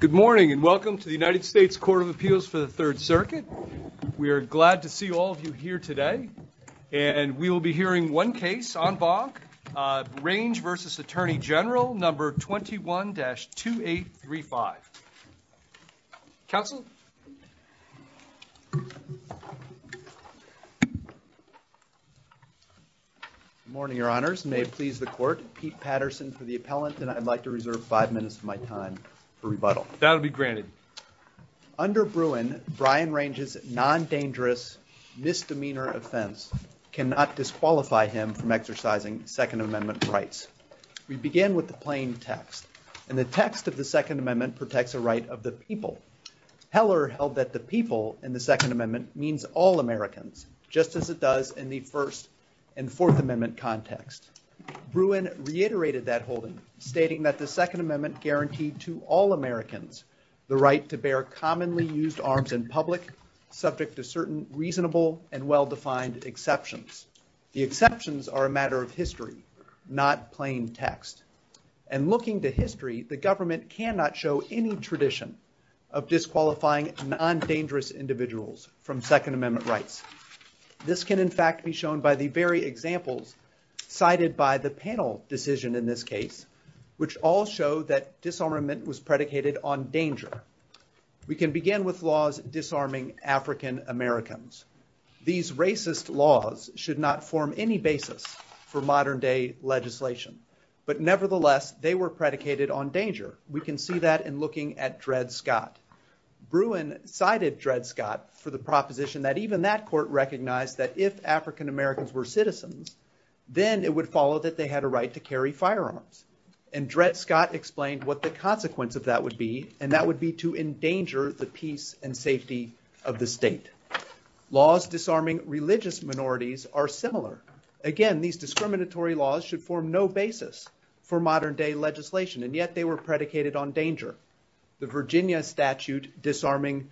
Good morning and welcome to the United States Court of Appeals for the Third Circuit. We are glad to see all of you here today and we will be hearing one case on Banc, Range v. Attorney General number 21-2835. Counselor. Good morning Your Honors. May it please the Court. Pete Patterson for the appellant and I'd like to reserve five minutes of my time for rebuttal. That'll be granted. Under Bruin, Brian Range's non-dangerous misdemeanor offense cannot disqualify him from exercising Second Amendment rights. We begin with the plain text and the text of the Second Amendment protects a right of the people. Heller held that the people in the Second Amendment means all Americans just as it does in the First and Fourth Amendment context. Bruin reiterated that holding stating that the Second Amendment guaranteed to all Americans the right to bear commonly used arms in public subject to certain reasonable and well-defined exceptions. The exceptions are a matter of history not plain text and looking to history the government cannot show any tradition of disqualifying non-dangerous individuals from Second Amendment rights. This can in by the very examples cited by the panel decision in this case which all show that disarmament was predicated on danger. We can begin with laws disarming African-Americans. These racist laws should not form any basis for modern day legislation but nevertheless they were predicated on danger. We can see that in looking at Dred Scott. Bruin cited Dred Scott for the proposition that even that recognized that if African-Americans were citizens then it would follow that they had a right to carry firearms and Dred Scott explained what the consequence of that would be and that would be to endanger the peace and safety of the state. Laws disarming religious minorities are similar. Again these discriminatory laws should form no basis for modern day legislation and yet they were predicated on danger. The Virginia statute disarming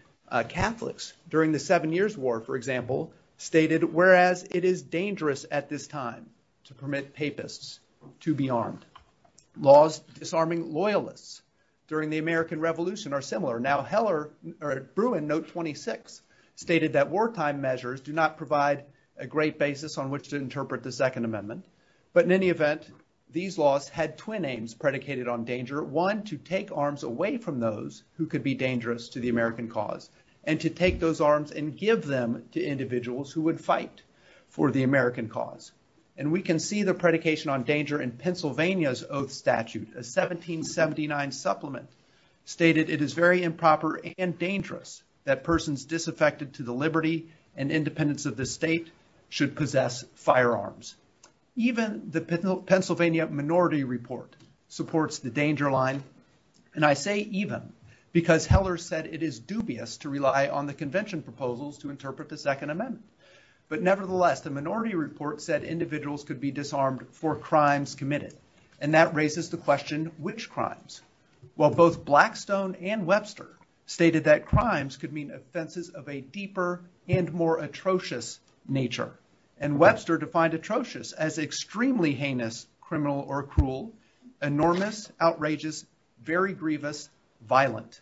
Catholics during the Seven Years War for example stated whereas it is dangerous at this time to permit papists to be armed. Laws disarming loyalists during the American Revolution are similar. Now Heller or Bruin note 26 stated that wartime measures do not provide a great basis on which to interpret the Second Amendment but in any event these laws had twin aims predicated on danger. One to take arms away from those who could be dangerous to the American cause and to take those arms and give them to individuals who would fight for the American cause and we can see the predication on danger in Pennsylvania's oath statute. A 1779 supplement stated it is very improper and dangerous that persons disaffected to the liberty and independence of the state should possess firearms. Even the Pennsylvania Minority Report supports the danger line and I say convention proposals to interpret the Second Amendment but nevertheless the Minority Report said individuals could be disarmed for crimes committed and that raises the question which crimes? Well both Blackstone and Webster stated that crimes could mean offenses of a deeper and more atrocious nature and Webster defined atrocious as extremely heinous criminal or cruel enormous outrageous very grievous violent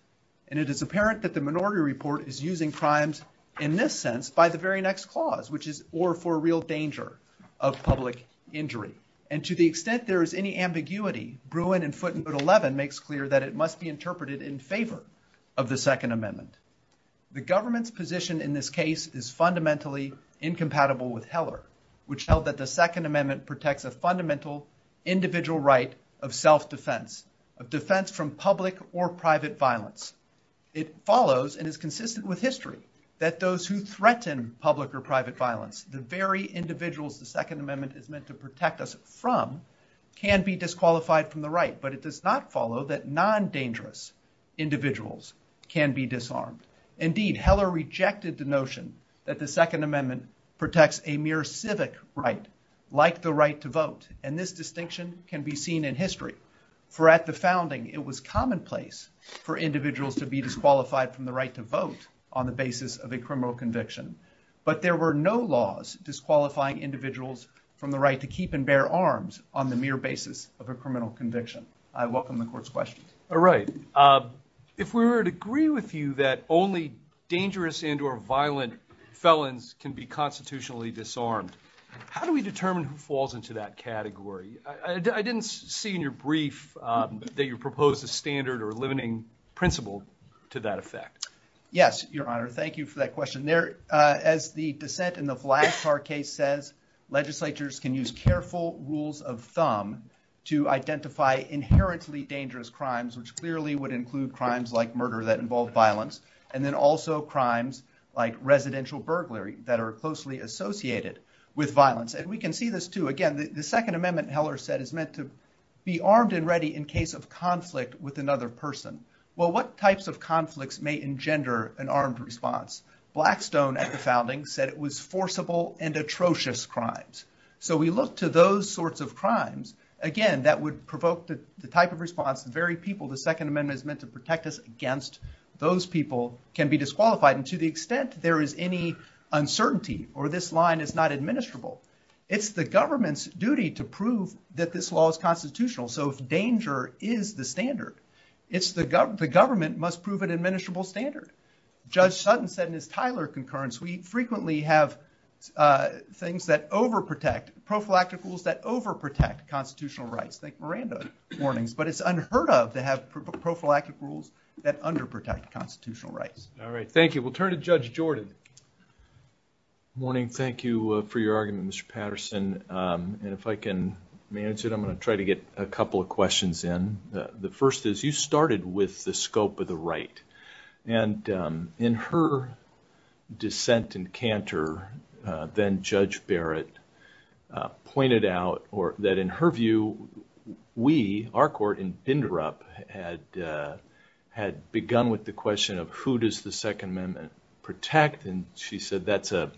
and it is apparent that the Minority Report is using crimes in this sense by the very next clause which is or for real danger of public injury and to the extent there is any ambiguity Bruin in footnote 11 makes clear that it must be interpreted in favor of the Second Amendment. The government's position in this case is fundamentally incompatible with Heller which held that the Second Amendment protects a fundamental individual right of self-defense of defense from public or private violence. It follows and is consistent with history that those who threaten public or private violence the very individuals the Second Amendment is meant to protect us from can be disqualified from the right but it does not follow that non-dangerous individuals can be disarmed. Indeed Heller rejected the notion that the Second Amendment protects a mere civic right like the right to vote and this distinction can be seen in history for at the founding it was commonplace for the basis of a criminal conviction but there were no laws disqualifying individuals from the right to keep and bear arms on the mere basis of a criminal conviction. I welcome the court's questions. All right if we were to agree with you that only dangerous and or violent felons can be constitutionally disarmed how do we determine who falls into that category? I didn't see in your brief that you proposed a standard or limiting principle to that effect. Yes your honor thank you for that question there as the dissent in the black car case says legislatures can use careful rules of thumb to identify inherently dangerous crimes which clearly would include crimes like murder that involve violence and then also crimes like residential burglary that are closely associated with violence and we can see this too again the Second Amendment Heller said is meant to be armed and ready in case of conflict with another person. Well what types of conflicts may engender an armed response? Blackstone at the founding said it was forcible and atrocious crimes so we look to those sorts of crimes again that would provoke the type of response very people the Second Amendment is meant to protect us against those people can be disqualified and to the extent there is any uncertainty or this line is not administrable it's the government's that this law is constitutional so danger is the standard it's the government must prove an administrable standard. Judge Sutton said in his Tyler concurrence we frequently have things that over protect prophylactic rules that over protect constitutional rights like Miranda warnings but it's unheard of to have prophylactic rules that under protect constitutional rights. All right thank you we'll turn to Judge Jordan. Morning thank you for your argument Mr. Manchin. I'm going to try to get a couple of questions in. The first is you started with the scope of the right and in her dissent and canter then Judge Barrett pointed out or that in her view we our court in Inderup had had begun with the question of who does the Second Amendment protect and she said that's a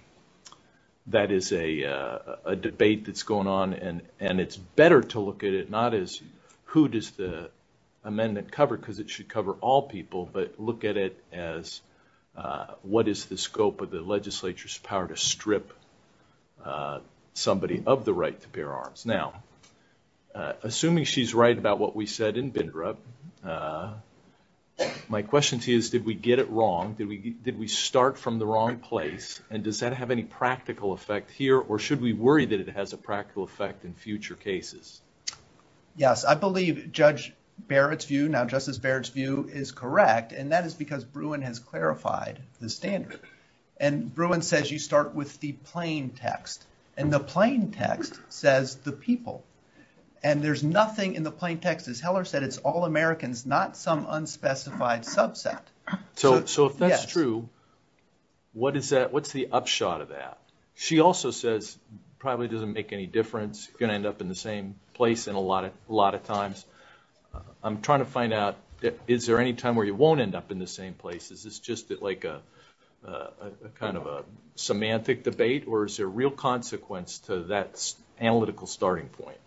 debate that's going on and and it's better to look at it not as who does the amendment cover because it should cover all people but look at it as what is the scope of the legislature's power to strip somebody of the right to bear arms. Now assuming she's right about what we said in Inderup my question to you is did we get it wrong did we did we start from the wrong place and does that have any practical effect here or should we worry that it has a practical effect in future cases? Yes I believe Judge Barrett's view now Justice Barrett's view is correct and that is because Bruin has clarified the standards and Bruin says you start with the plain text and the plain text says the people and there's nothing in the plain text as Heller said it's all Americans not some unspecified subset. So if that's true what is that what's the upshot of that? She also says probably doesn't make any difference gonna end up in the same place and a lot of a lot of times I'm trying to find out that is there any time where you won't end up in the same places it's just that like a kind of a semantic debate or is there real consequence to that analytical starting point?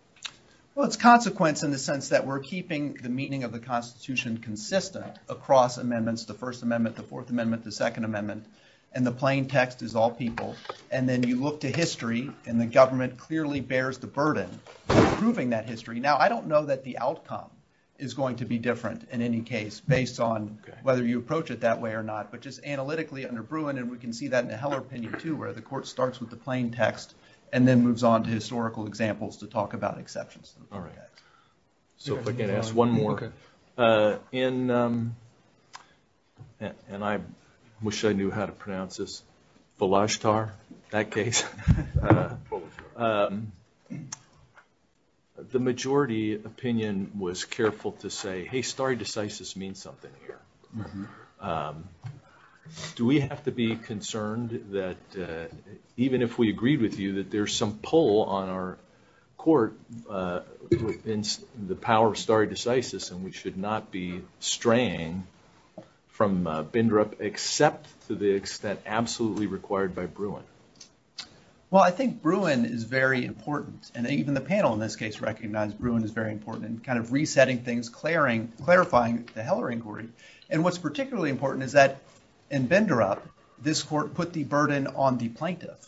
Well it's consequence in the sense that we're keeping the meaning of the Constitution consistent across amendments the First Amendment the Fourth Amendment the Second Amendment and the plain text is all people and then you look to history and the government clearly bears the burden proving that history now I don't know that the outcome is going to be different in any case based on whether you approach it that way or not but just analytically under Bruin and we can see that in the Heller opinion too where the court starts with the plain text and then moves on to historical examples to talk about exceptions. All right so if I in and I wish I knew how to pronounce this Balashtar that case the majority opinion was careful to say hey stare decisis means something here do we have to be concerned that even if we agreed with you that there's some pull on our court in the power of stare decisis and we should not be straying from Bindrup except to the extent absolutely required by Bruin. Well I think Bruin is very important and even the panel in this case recognized Bruin is very important in kind of resetting things clearing clarifying the Heller inquiry and what's particularly important is that in Bindrup this court put the burden on the plaintiff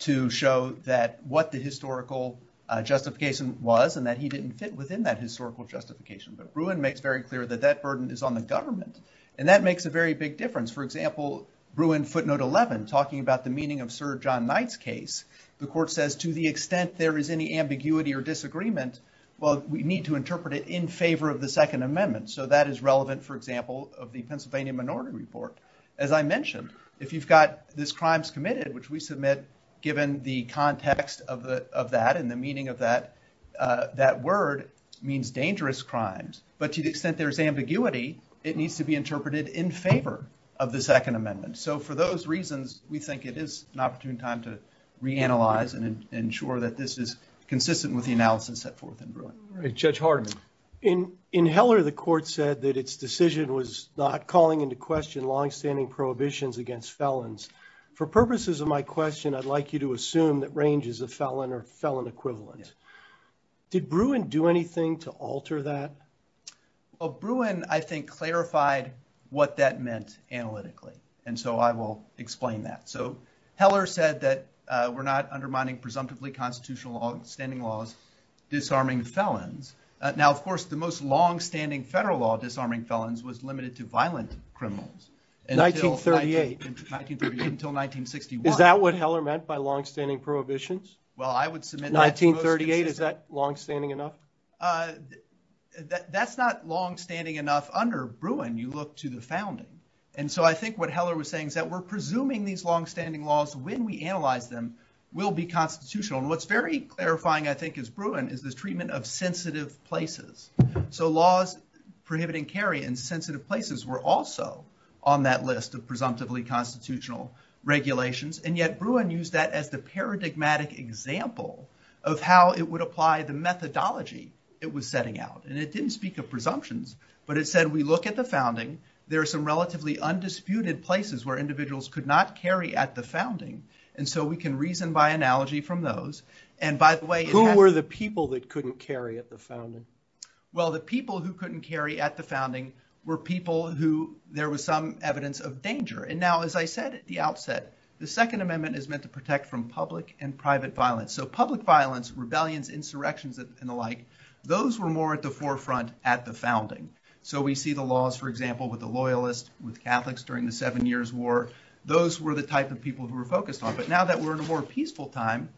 to show that what the historical justification was and that he didn't fit within that historical justification but Bruin makes very clear that that burden is on the government and that makes a very big difference for example Bruin footnote 11 talking about the meaning of Sir John Knight's case the court says to the extent there is any ambiguity or disagreement well we need to interpret it in favor of the Second Amendment so that is relevant for example of the Pennsylvania Minority Report. As I mentioned if you've got this crimes committed which we submit given the context of that and the meaning of that that word means dangerous crimes but to the extent there's ambiguity it needs to be interpreted in favor of the Second Amendment so for those reasons we think it is an opportune time to reanalyze and ensure that this is consistent with the analysis set forth in Bruin. Judge Hardeman. In Heller the court said that its decision was not calling into question long-standing prohibitions against felons. For purposes of my question I'd like you to assume that ranges of felon or felon equivalent. Did Bruin do anything to alter that? Well Bruin I think clarified what that meant analytically and so I will explain that. So Heller said that we're not undermining presumptively constitutional long-standing laws disarming felons. Now of course the most long-standing federal law disarming felons was limited to violent criminals and 1938 until 1961. Is that what Heller meant by long-standing prohibitions? Well I would submit 1938. Is that long-standing enough? That's not long-standing enough under Bruin you look to the founding and so I think what Heller was saying is that we're presuming these long-standing laws when we analyze them will be constitutional and what's very clarifying I think is Bruin is this treatment of sensitive places. So laws prohibiting carry in sensitive places were also on that list of presumptively constitutional regulations and yet Bruin used that as the paradigmatic example of how it would apply the methodology it was setting out and it didn't speak of presumptions but it said we look at the founding there are some relatively undisputed places where individuals could not carry at the founding and so we can reason by analogy from those and by the way. Who were the people that couldn't carry at the were people who there was some evidence of danger and now as I said at the outset the Second Amendment is meant to protect from public and private violence. So public violence, rebellions, insurrections and the like those were more at the forefront at the founding. So we see the laws for example with the Loyalists, with Catholics during the Seven Years War those were the type of people who were focused on but now that we're in a more peaceful time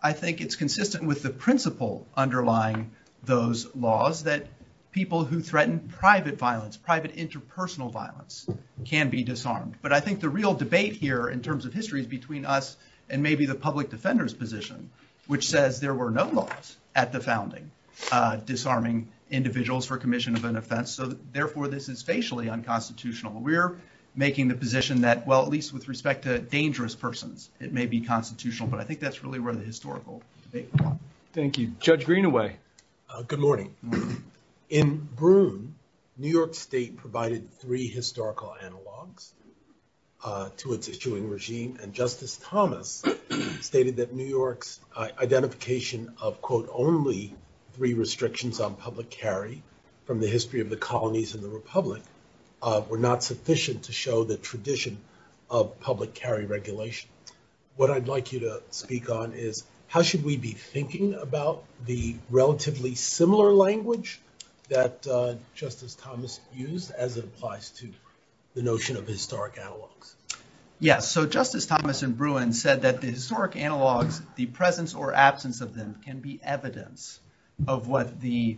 I think it's consistent with the principle underlying those laws that people who had interpersonal violence can be disarmed but I think the real debate here in terms of history is between us and maybe the public defenders position which says there were no laws at the founding disarming individuals for commission of an offense so therefore this is facially unconstitutional. We're making the position that well at least with respect to dangerous persons it may be constitutional but I think that's really where the historical debate is. Thank you. Judge Greenaway. Good morning. In Brune, New York State provided three historical analogues to its issuing regime and Justice Thomas stated that New York's identification of quote only three restrictions on public carry from the history of the colonies in the Republic were not sufficient to show the tradition of public carry regulation. What I'd like you to speak on is how should we be thinking about the relatively similar language that Justice Thomas used as it applies to the notion of historic analogues? Yes, so Justice Thomas in Brune said that the historic analogues, the presence or absence of them can be evidence of what the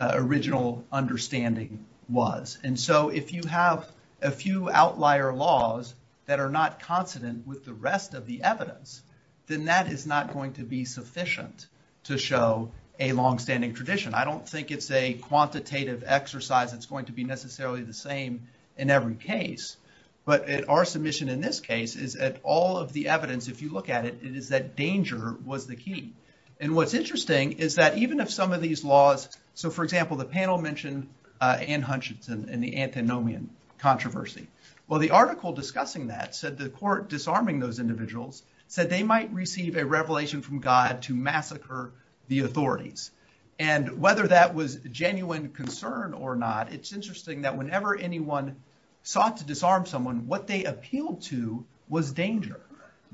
original understanding was and so if you have a few outlier laws that are not consonant with the rest of the evidence then that is not going to be sufficient to show a long-standing tradition. I don't think it's a quantitative exercise that's going to be necessarily the same in every case but our submission in this case is that all of the evidence if you look at it is that danger was the key and what's interesting is that even if some of these laws, so for example the panel mentioned Anne Hutchinson and the antinomian controversy. Well the article discussing that said the court disarming those individuals said they might receive a revelation from God to massacre the authorities and whether that was genuine concern or not it's interesting that whenever anyone sought to disarm someone what they appealed to was danger.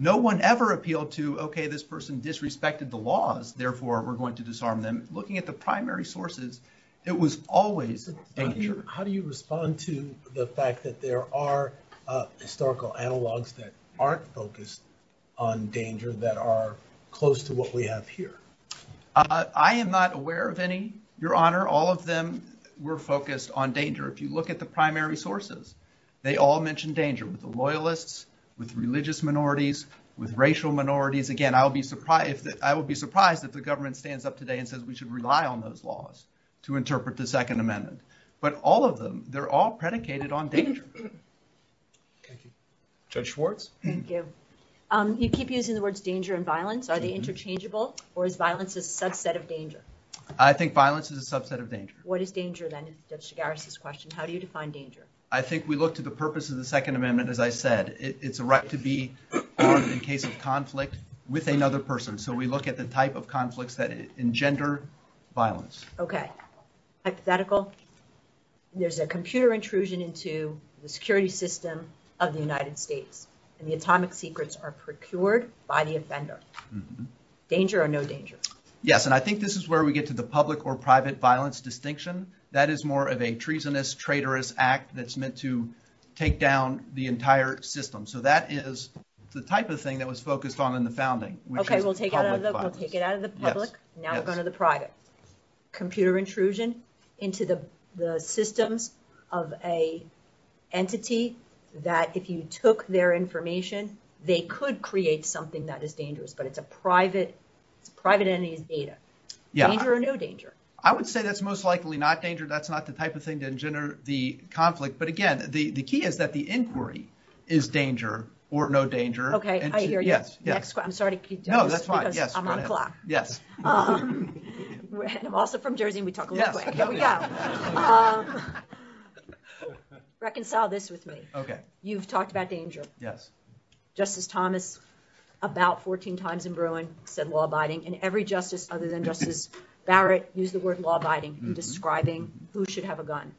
No one ever appealed to okay this person disrespected the laws therefore we're going to disarm them. Looking at the primary sources it was always danger. How do you respond to the fact that there are historical analogs that aren't focused on danger that are close to what we have here? I am not aware of any, your honor. All of them were focused on danger. If you look at the primary sources they all mentioned danger with the loyalists, with religious minorities, with racial minorities. Again I'll be surprised that I would be surprised that the government stands up today and says we should rely on those laws to interpret the Second Amendment. But all of them they're all predicated on danger. Judge Schwartz? You keep using the words danger and violence. Are they interchangeable or is violence a subset of danger? I think violence is a subset of danger. What is danger then is Judge Garis' question. How do you define danger? I think we look to the purpose of the Second Amendment as I said it's a right to be in case of conflict with another person so we look at the type of conflicts that engender violence. Okay. There's a computer intrusion into the security system of the United States and the atomic secrets are procured by the offender. Danger or no danger? Yes and I think this is where we get to the public or private violence distinction. That is more of a treasonous traitorous act that's meant to take down the entire system. So that is the type of thing that was focused on in the private. Computer intrusion into the system of a entity that if you took their information they could create something that is dangerous but it's a private entity's data. Yeah. Danger or no danger? I would say that's most likely not danger. That's not the type of thing to engender the conflict but again the the key is that the inquiry is danger or no danger. Okay. I hear you. I'm sorry to keep you. No, that's fine. Yes. I'm also from Jersey and we talk a little bit. Reconcile this with me. Okay. You've talked about danger. Yes. Justice Thomas about 14 times in Bruin said law-abiding and every justice other than Justice Barrett used the word law-abiding describing who should have a gun.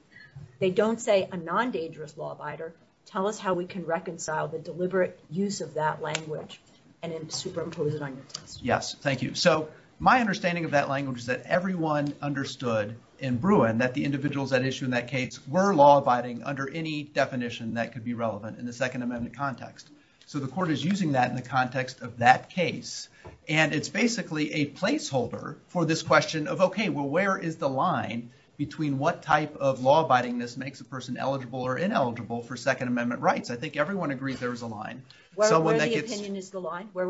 They don't say a non-dangerous law-abider. Tell us how we can reconcile the deliberate use of that language and then superimpose it on you. Yes. Thank you. So my understanding of that language that everyone understood in Bruin that the individuals that issue in that case were law-abiding under any definition that could be relevant in the Second Amendment context. So the court is using that in the context of that case and it's basically a placeholder for this question of okay well where is the line between what type of law-abiding this makes a person eligible or ineligible for Second Amendment rights. I think everyone agrees there's a line. Where would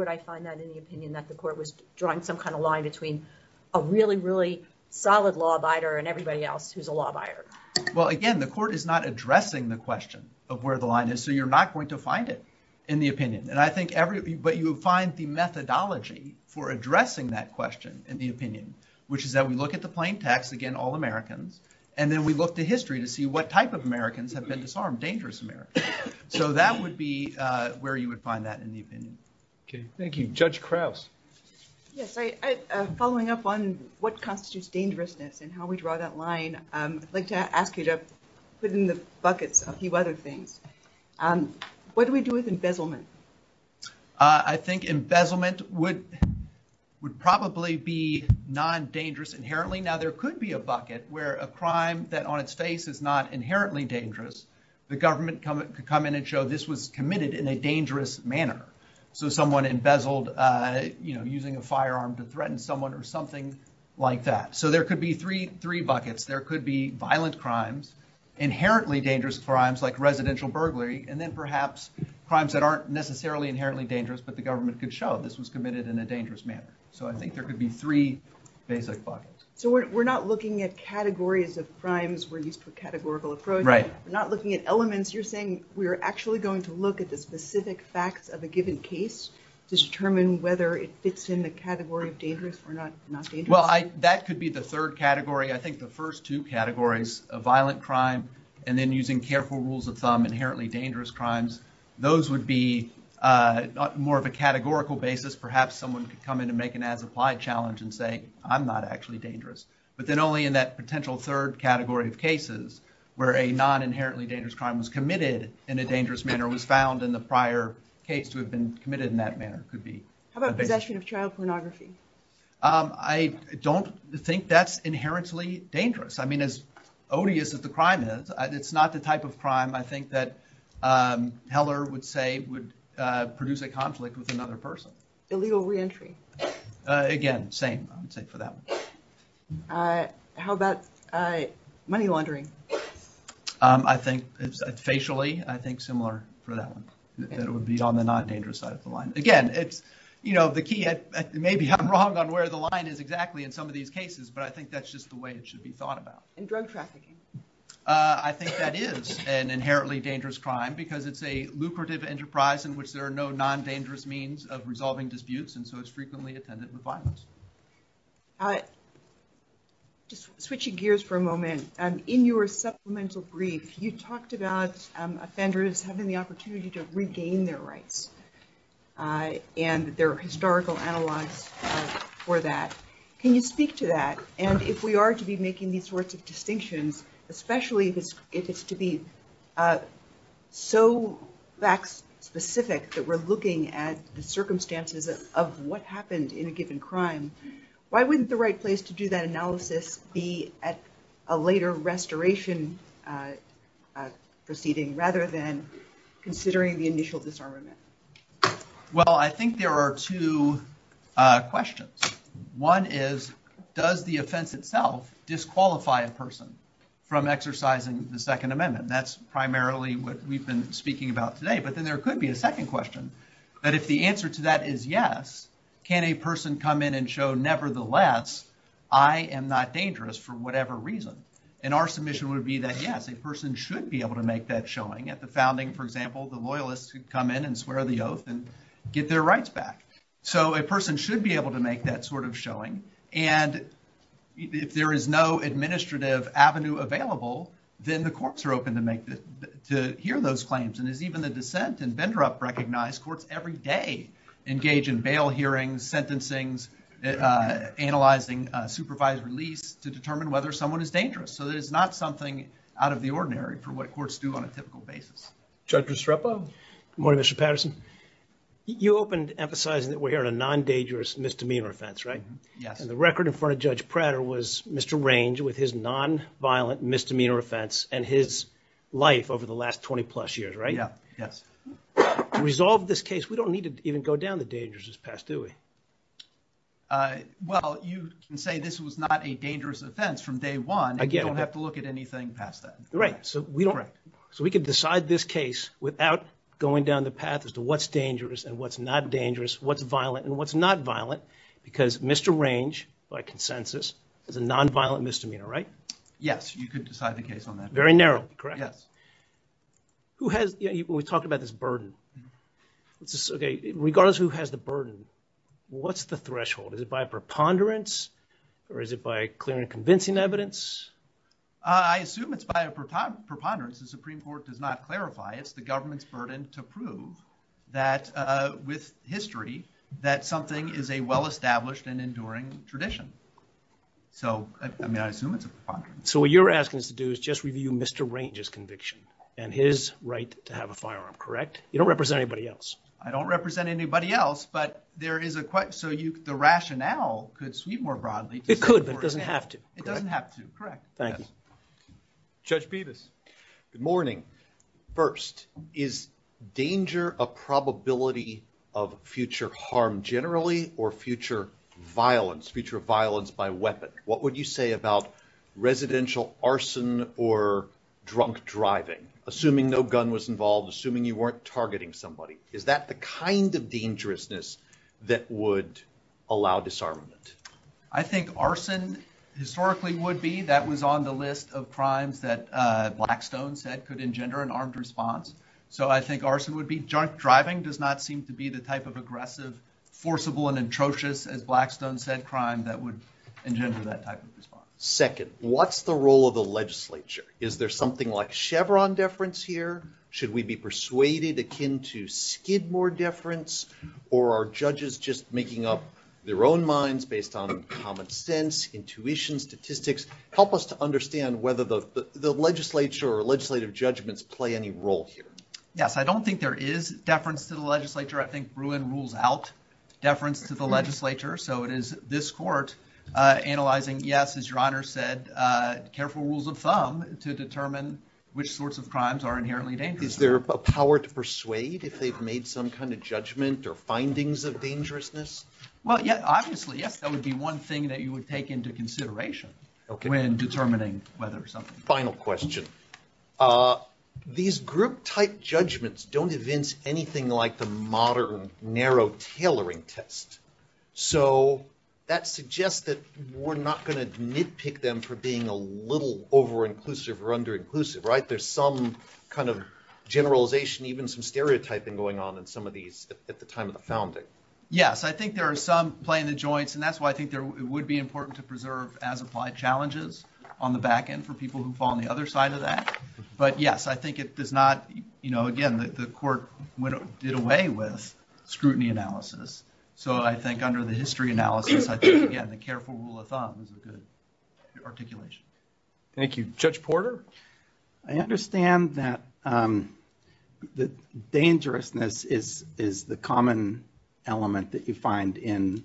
I find that in the opinion that the court was drawing some kind of line between a really really solid law-abider and everybody else who's a law-abider. Well again the court is not addressing the question of where the line is so you're not going to find it in the opinion and I think everybody but you find the methodology for addressing that question in the opinion which is that we look at the plain text again all Americans and then we look to history to see what type of Americans have been disarmed, dangerous Americans. So that would be where you would find that in the opinion. Okay, thank you. Judge Krause. Yes, following up on what constitutes dangerousness and how we draw that line I'd like to ask you to put in the buckets a few other things. What do we do with embezzlement? I think embezzlement would probably be non-dangerous inherently. Now there could be a the government come in and show this was committed in a dangerous manner. So someone embezzled you know using a firearm to threaten someone or something like that. So there could be three buckets. There could be violent crimes, inherently dangerous crimes like residential burglary, and then perhaps crimes that aren't necessarily inherently dangerous but the government could show this was committed in a dangerous manner. So I think there could be three basic buckets. So we're not looking at categories of crimes we're used for categorical approach. Right. We're not looking at elements. You're saying we're actually going to look at the specific facts of a given case to determine whether it fits in the category of dangerous or not dangerous. Well, that could be the third category. I think the first two categories of violent crime and then using careful rules of thumb, inherently dangerous crimes, those would be more of a categorical basis. Perhaps someone could come in and make an ad-reply challenge and say I'm not actually dangerous. But then only in that potential third category of cases where a non-inherently dangerous crime was committed in a dangerous manner was found in the prior case to have been committed in that manner could be. How about possession of child pornography? I don't think that's inherently dangerous. I mean as odious as the crime is, it's not the type of crime I think that Heller would say would produce a conflict with money laundering. I think it's facially I think similar for that one. It would be on the non-dangerous side of the line. Again, it's, you know, the key, maybe I'm wrong on where the line is exactly in some of these cases, but I think that's just the way it should be thought about. And drug trafficking. I think that is an inherently dangerous crime because it's a lucrative enterprise in which there are no non-dangerous means of resolving disputes and so it's frequently attended by victims of violence. Switching gears for a moment, in your supplemental brief you talked about offenders having the opportunity to regain their rights and their historical analysis for that. Can you speak to that and if we are to be making these sorts of distinctions, especially if it's to be so fact-specific that we're looking at the circumstances of what happened in a given crime, why wouldn't the right place to do that analysis be at a later restoration proceeding rather than considering the initial disarmament? Well, I think there are two questions. One is, does the offense itself disqualify a person from exercising the Second Amendment? That's primarily what we've been speaking about today, but then there could be a second question that if the answer to that is yes, can a person come in and show nevertheless I am not dangerous for whatever reason? And our submission would be that yes, a person should be able to make that showing at the founding, for example, the loyalists who come in and swear the oath and get their rights back. So a person should be able to make that sort of showing and if there is no administrative avenue available, then the courts are open to hear those claims and there's even a dissent and Bindrup recognized courts every day engage in bail hearings, sentencing, analyzing supervised release to determine whether someone is dangerous. So there's not something out of the ordinary for what courts do on a typical basis. Judge DiStruppo? Good morning, Mr. Patterson. You opened emphasizing that we're hearing a non-dangerous misdemeanor offense, right? Yes. And the record in front of Judge Prater was Mr. Range with his non-violent misdemeanor offense and his life over the last 20 plus years, right? Yeah, yes. To resolve this case, we don't need to even go down the dangerous path, do we? Well, you can say this was not a dangerous offense from day one and you don't have to look at anything past that. Right. So we don't, so we could decide this case without going down the path as to what's dangerous and what's not dangerous, what's violent and what's not violent because Mr. Range, by consensus, is a non-violent misdemeanor, right? Yes, you could decide the case on that. Very narrow, correct? Yes. We talked about this burden. Okay, regardless who has the burden, what's the threshold? Is it by preponderance or is it by clear and convincing evidence? I assume it's by a preponderance. The Supreme Court does not clarify. It's the government's burden to prove that with history that something is a well-established and What you're asking us to do is just review Mr. Range's conviction and his right to have a firearm, correct? You don't represent anybody else. I don't represent anybody else, but there is a question, so the rationale could sweep more broadly. It could, but it doesn't have to. It doesn't have to, correct. Thank you. Judge Betus. Good morning. First, is danger a probability of future harm generally or future violence, by weapon? What would you say about residential arson or drunk driving, assuming no gun was involved, assuming you weren't targeting somebody? Is that the kind of dangerousness that would allow disarmament? I think arson historically would be. That was on the list of crimes that Blackstone said could engender an armed response, so I think arson would be. Junk driving does not seem to be the type of aggressive, forcible, and atrocious, as Blackstone said, crime that would engender that type of response. Second, what's the role of the legislature? Is there something like Chevron deference here? Should we be persuaded akin to Skidmore deference, or are judges just making up their own minds based on common sense, intuition, statistics? Help us to understand whether the legislature or legislative judgments play any role here. Yes, I don't think there is deference to the legislature. I think Bruin rules out deference to the this court, analyzing, yes, as your Honor said, careful rules of thumb to determine which sorts of crimes are inherently dangerous. Is there a power to persuade if they've made some kind of judgment or findings of dangerousness? Well, yeah, obviously, yes, that would be one thing that you would take into consideration when determining whether something... Final question. These group-type judgments don't evince anything like the modern narrow tailoring test, so that suggests that we're not going to nitpick them for being a little over-inclusive or under-inclusive, right? There's some kind of generalization, even some stereotyping going on in some of these at the time of the founding. Yes, I think there are some play in the joints, and that's why I think there would be important to preserve as applied challenges on the back end for people who fall on the other side of that, but yes, I think it does not, you know, again, the court did away with scrutiny analysis, so I think under the history analysis, again, the careful rule of thumb is a good articulation. Thank you. Judge Porter? I understand that the dangerousness is the common element that you find in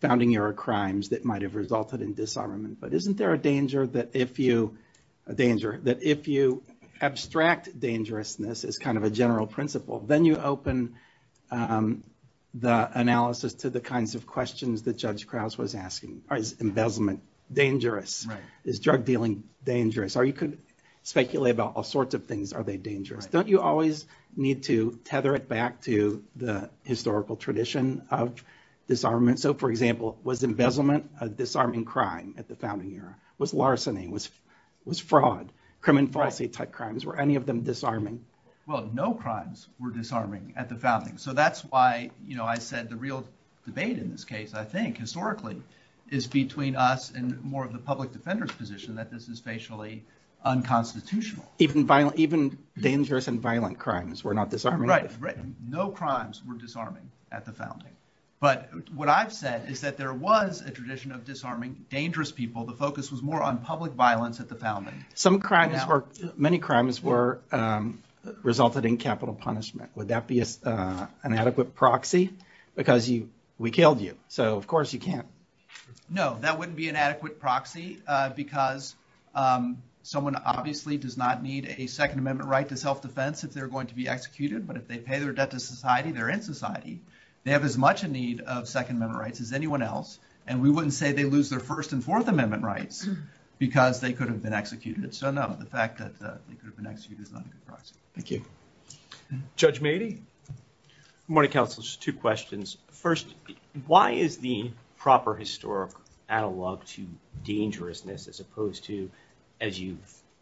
founding-era crimes that might have resulted in disarmament, but isn't there a danger that if you abstract dangerousness as kind of a general principle, then you open the analysis to the kinds of questions that Judge Krause was asking. Is embezzlement dangerous? Is drug dealing dangerous? Or you could speculate about all sorts of things. Are they dangerous? Don't you always need to tether it back to the historical tradition of disarmament? So, for example, was embezzlement a disarming crime at the founding era? Was larceny, was fraud, crime and falsity type crimes, were any of them disarming? Well, no crimes were disarming at the founding, so that's why, you know, I said the real debate in this case, I think, historically, is between us and more of the public defender's position that this is basically unconstitutional. Even dangerous and violent crimes were not disarming? Right, right. No crimes were disarming at the founding, but what I've said is that there was a tradition of disarming dangerous people. The focus was more on public violence at the founding. Some crimes were, many crimes were resulted in capital punishment. Would that be an adequate proxy? Because you, we killed you, so of course you can't. No, that wouldn't be an adequate proxy because someone obviously does not need a Second Amendment right to self-defense if they're going to be executed, but if they pay their debt to society, they're in anyone else, and we wouldn't say they lose their First and Fourth Amendment rights because they could have been executed. So, no, the fact that they could have been executed is not a good proxy. Thank you. Judge Mady? Good morning, counsel. Just two questions. First, why is the proper historic analog to dangerousness as opposed to, as you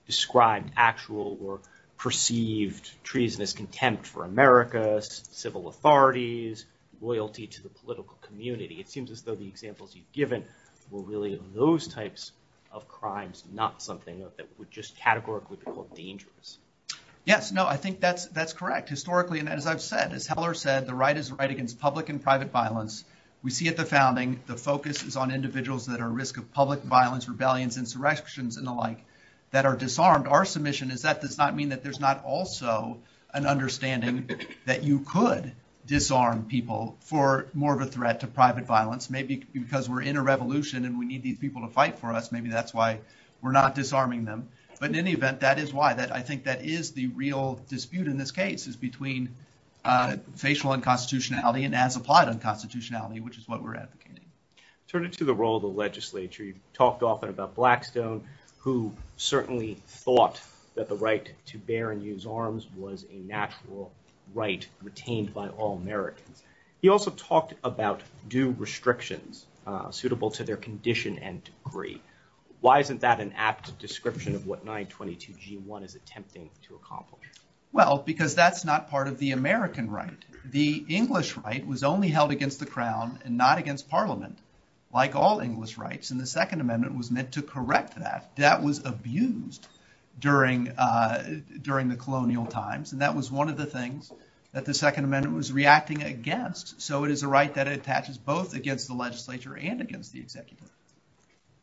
described, actual or perceived treasonous contempt for America's civil authorities, loyalty to the political community? It seems as though the examples you've given were really those types of crimes, not something that would just categorically be called dangerous. Yes, no, I think that's, that's correct. Historically, and as I've said, as Heller said, the right is the right against public and private violence. We see at the founding the focus is on individuals that are at risk of public violence, rebellions, insurrections, and the like that are disarmed. Our submission is that does not mean that there's not also an understanding that you could disarm people for more of a threat to private violence. Maybe because we're in a revolution and we need these people to fight for us, maybe that's why we're not disarming them. But in any event, that is why. That, I think, that is the real dispute in this case is between facial unconstitutionality and as-applied unconstitutionality, which is what we're advocating. Turning to the role of the legislature, you've talked often about Blackstone, who certainly thought that the right to bear and use arms was a natural right retained by all Americans. You also talked about due restrictions suitable to their condition and degree. Why isn't that an apt description of what 922 G1 is attempting to accomplish? Well, because that's not part of the American right. The English right was only held against the Crown and not against Parliament, like all English rights, and the Second Amendment was meant to correct that. That was abused during the colonial times, and that was one of the things that the Second Amendment was reacting against. So, it is a right that attaches both against the legislature and against the executive.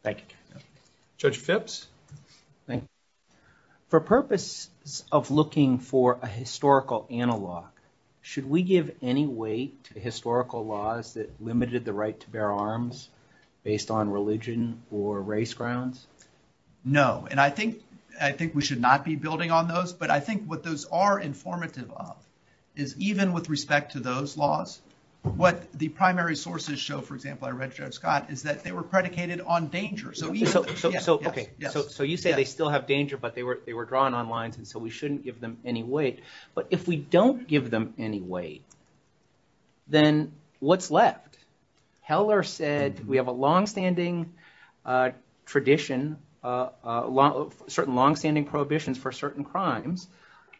Thank you. Judge Phipps? For purpose of looking for a historical analog, should we give any weight to historical laws that limited the right to bear arms based on religion or race grounds? No, and I think we should not be building on those, but I think what those are informative of is, even with respect to those laws, what the primary sources show, for example, I read, Sheriff Scott, is that they were predicated on danger. So, you say they still have danger, but they were drawn on lines, and so we shouldn't give them any weight, but if we don't give them any weight, then what's left? Heller said we have a long-standing tradition, certain long-standing prohibitions for certain crimes.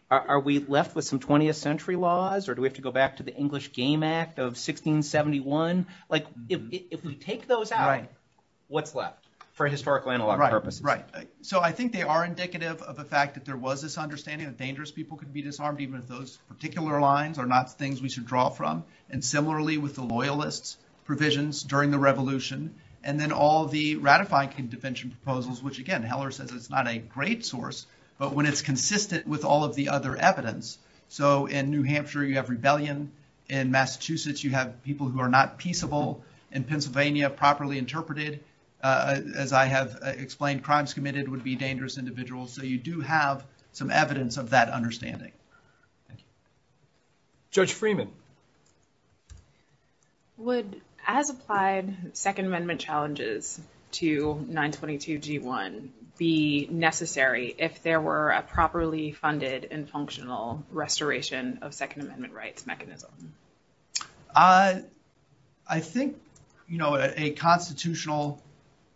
Are we left with some 20th century laws, or do we have to go back to the English Game Act of 1671? Like, if we take those out, what's left for historical analog purposes? Right, right. So, I think they are indicative of the fact that there was this understanding that dangerous people could be disarmed, even if those particular lines are not things we should draw from, and similarly with the Loyalists' provisions during the Revolution, and then all the ratified defension proposals, which again, Heller says it's not a great source, but when it's consistent with all of the other evidence. So, in New Hampshire, you have rebellion. In Massachusetts, you have people who are not peaceable. In Pennsylvania, properly interpreted, as I have explained, crimes committed would be dangerous individuals. So, you do have some evidence of that understanding. Judge Freeman. Would as-applied Second Amendment challenges to 922g1 be necessary if there were a properly funded and functional restoration of Second Amendment rights mechanism? I think, you know, a constitutional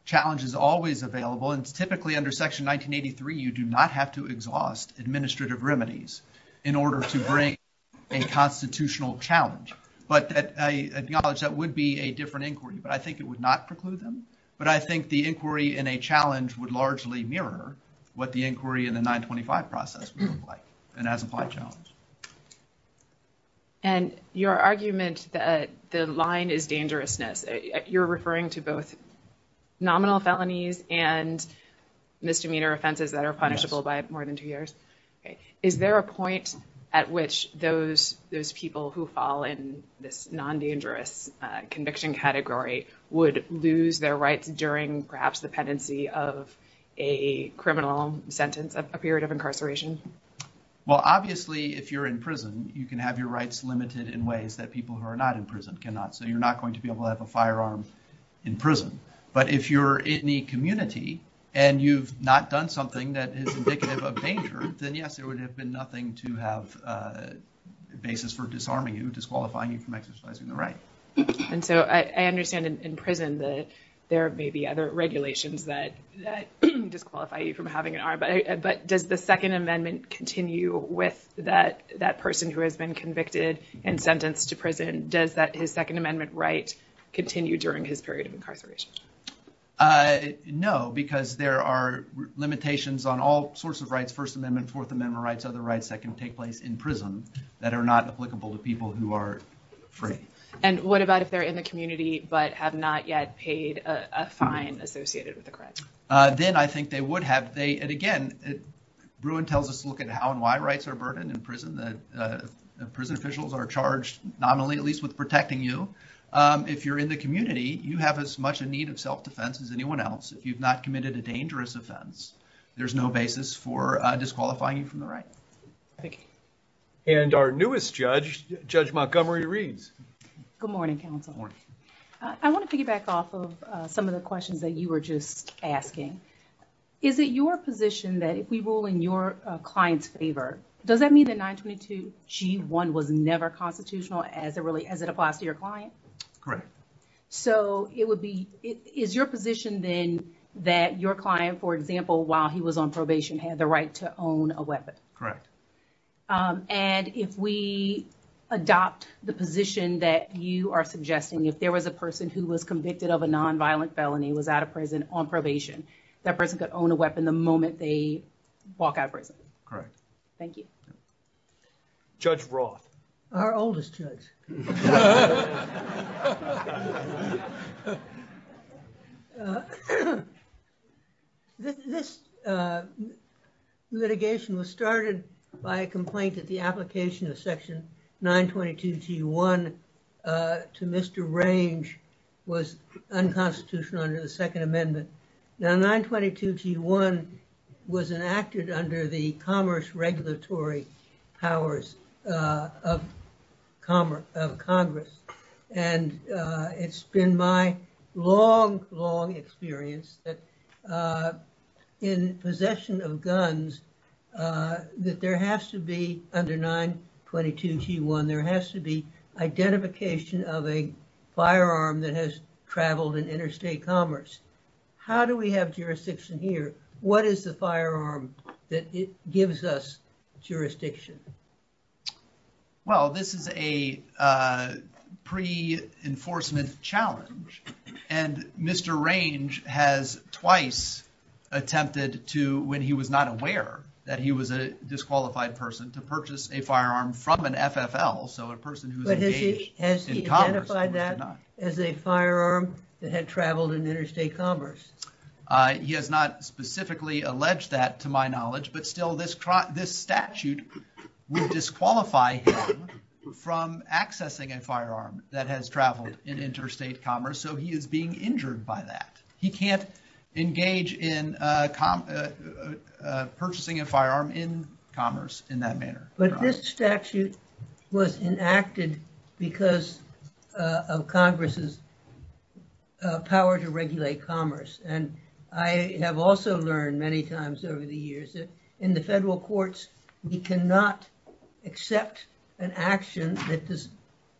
challenge is always available, and administrative remedies, in order to bring a constitutional challenge, but I acknowledge that would be a different inquiry, but I think it would not preclude them, but I think the inquiry in a challenge would largely mirror what the inquiry in the 925 process would look like, an as-applied challenge. And your argument that the line is dangerousness, you're referring to both nominal years. Is there a point at which those people who fall in this non-dangerous conviction category would lose their rights during, perhaps, the pendency of a criminal sentence, a period of incarceration? Well, obviously, if you're in prison, you can have your rights limited in ways that people who are not in prison cannot. So, you're not going to be able to have a firearm in prison, but if you're in the community and you've not done something that is indicative of danger, then, yes, there would have been nothing to have a basis for disarming you, disqualifying you from exercising the right. And so, I understand in prison that there may be other regulations that disqualify you from having an arm, but does the Second Amendment continue with that person who has been convicted and sentenced to prison? Does that Second Amendment right continue during his period of incarceration? No, because there are limitations on all sorts of rights. First Amendment, Fourth Amendment rights, other rights that can take place in prison that are not applicable to people who are free. And what about if they're in the community but have not yet paid a fine associated with the crime? Then, I think they would have. And, again, Bruin tells us to look at how and why rights are burdened in prison. Prison officials are charged nominally, at least with protecting you. If you're in the community, you have as much a need of self-defense as anyone else. If you've not committed a dangerous offense, there's no basis for disqualifying you from the right. And our newest judge, Judge Montgomery Reeves. Good morning, counsel. I want to piggyback off of some of the questions that you were just asking. Is it your position that if we rule in your client's favor, does that mean that 922g1 was never constitutional as it applies to your client? Correct. So, it would be, is your position then that your client, for example, while he was on probation, had the right to own a weapon? Correct. And if we adopt the position that you are suggesting, if there was a person who was convicted of a nonviolent felony, was out of prison, on probation, that person could own a weapon the moment they walk out of prison? Correct. Thank you. Judge Roth. Our oldest judge. This litigation was started by a complaint that the application of section 922g1 to Mr. Range was unconstitutional under the regulatory powers of Congress. And it's been my long, long experience that in possession of guns, that there has to be, under 922g1, there has to be identification of a firearm that has traveled in interstate commerce. How do we have jurisdiction here? What is the firearm that gives us jurisdiction? Well, this is a pre-enforcement challenge, and Mr. Range has twice attempted to, when he was not aware that he was a disqualified person, to purchase a firearm from an FFL, so a person who's engaged in commerce. Has he identified that as a firearm that had traveled in interstate commerce? He has not specifically alleged that, to my knowledge, but still this statute would disqualify him from accessing a firearm that has traveled in interstate commerce, so he is being injured by that. He can't engage in purchasing a firearm in commerce in that manner. But this And I have also learned many times over the years that in the federal courts, we cannot accept an action that is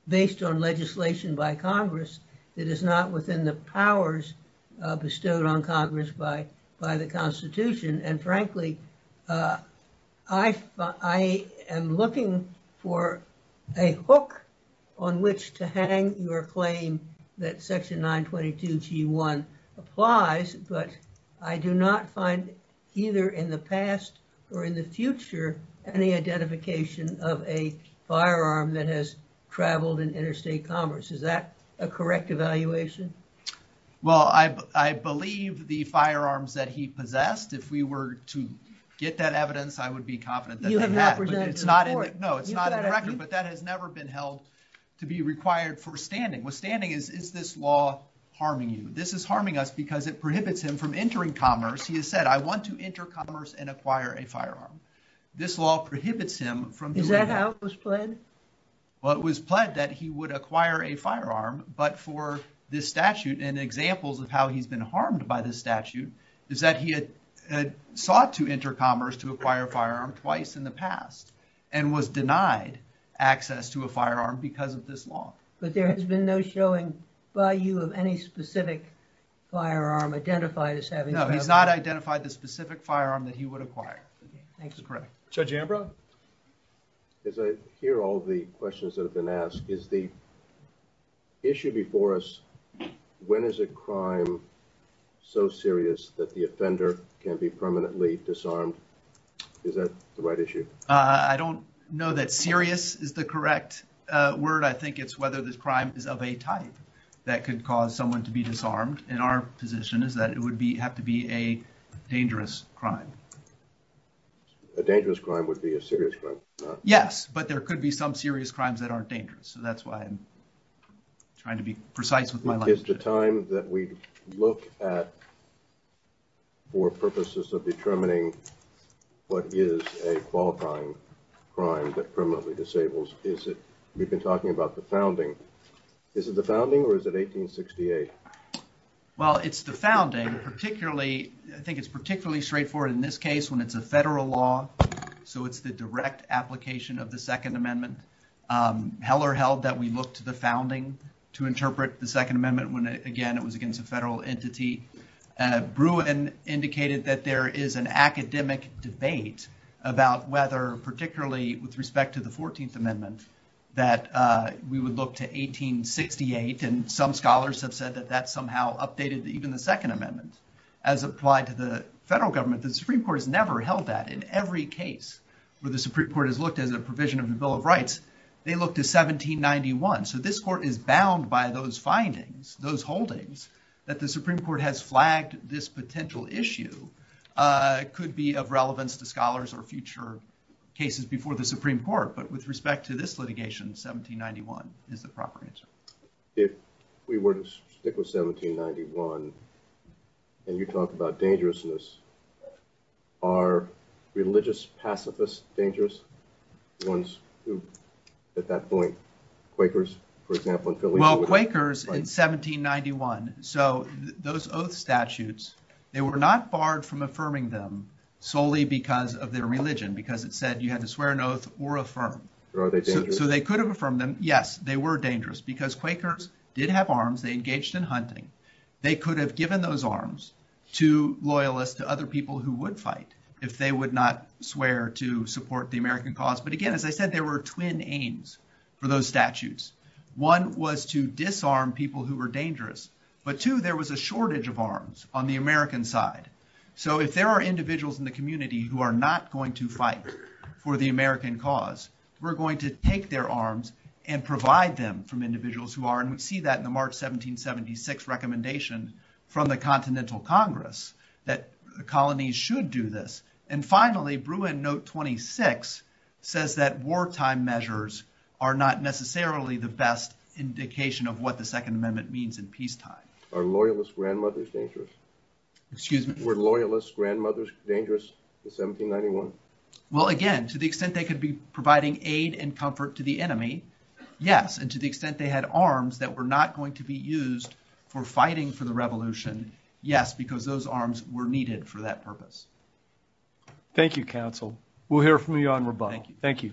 based on legislation by Congress that is not within the powers bestowed on Congress by the Constitution. And frankly, I am looking for a hook on which to hang your claim that applies, but I do not find either in the past or in the future any identification of a firearm that has traveled in interstate commerce. Is that a correct evaluation? Well, I believe the firearms that he possessed. If we were to get that evidence, I would be confident that it's not in the record, but that has never been held to be required for standing. Withstanding, is this law harming you? This is harming us because it prohibits him from entering commerce. He has said, I want to enter commerce and acquire a firearm. This law prohibits him from- Is that how it was pledged? Well, it was pledged that he would acquire a firearm, but for this statute and examples of how he's been harmed by this statute is that he had sought to enter commerce to acquire a firearm twice in the past and was denied access to a firearm because of this law. But there has no showing by you of any specific firearm identified as having- No, he's not identified the specific firearm that he would acquire. Judge Ambrose? As I hear all the questions that have been asked, is the issue before us, when is a crime so serious that the offender can be permanently disarmed? Is that the right issue? I don't know that serious is the correct word. I think it's whether the crime is of a type that could cause someone to be disarmed. And our position is that it would have to be a dangerous crime. A dangerous crime would be a serious crime. Yes, but there could be some serious crimes that aren't dangerous. So that's why I'm trying to be precise with my- Is the time that we look at for purposes of determining what is a qualifying crime that permanently disables? We've been talking about the founding. Is it the founding or is it 1868? Well, it's the founding. I think it's particularly straightforward in this case when it's a federal law. So it's the direct application of the Second Amendment. Heller held that we looked to the founding to interpret the Second Amendment when, again, it was against a about whether, particularly with respect to the 14th Amendment, that we would look to 1868. And some scholars have said that that somehow updated even the Second Amendment as applied to the federal government. The Supreme Court has never held that. In every case where the Supreme Court has looked at the provision of the Bill of Rights, they looked at 1791. So this court is bound by those findings, those holdings, that the Supreme Court has flagged this potential issue could be of relevance to scholars or future cases before the Supreme Court. But with respect to this litigation, 1791 is the proper answer. If we were to stick with 1791 and you talked about dangerousness, are religious pacifists dangerous? Ones who, at that point, Quakers, for example- Well, Quakers in 1791. So those oath statutes, they were not barred from affirming them solely because of their religion, because it said you had to swear an oath or affirm. So they could have affirmed them. Yes, they were dangerous because Quakers did have arms. They engaged in hunting. They could have given those arms to loyalists, to other people who would fight if they would not swear to support the American cause. But again, as I said, there were twin aims for those statutes. One was to disarm people who were dangerous, but two, there was a shortage of arms on the American side. So if there are individuals in the community who are not going to fight for the American cause, we're going to take their arms and provide them from individuals who are- and we see that in the March 1776 recommendation from the Continental Congress that colonies should do this. And finally, Bruin Note 26 says that wartime measures are not necessarily the best indication of what the Second Amendment means in peacetime. Are loyalist grandmothers dangerous? Excuse me? Were loyalist grandmothers dangerous in 1791? Well, again, to the extent they could be providing aid and comfort to the enemy, yes, and to the extent they had arms that were not going to be used for fighting for the Revolution, yes, because those arms were needed for that purpose. Thank you, counsel. We'll hear from you on rebuttal. Thank you.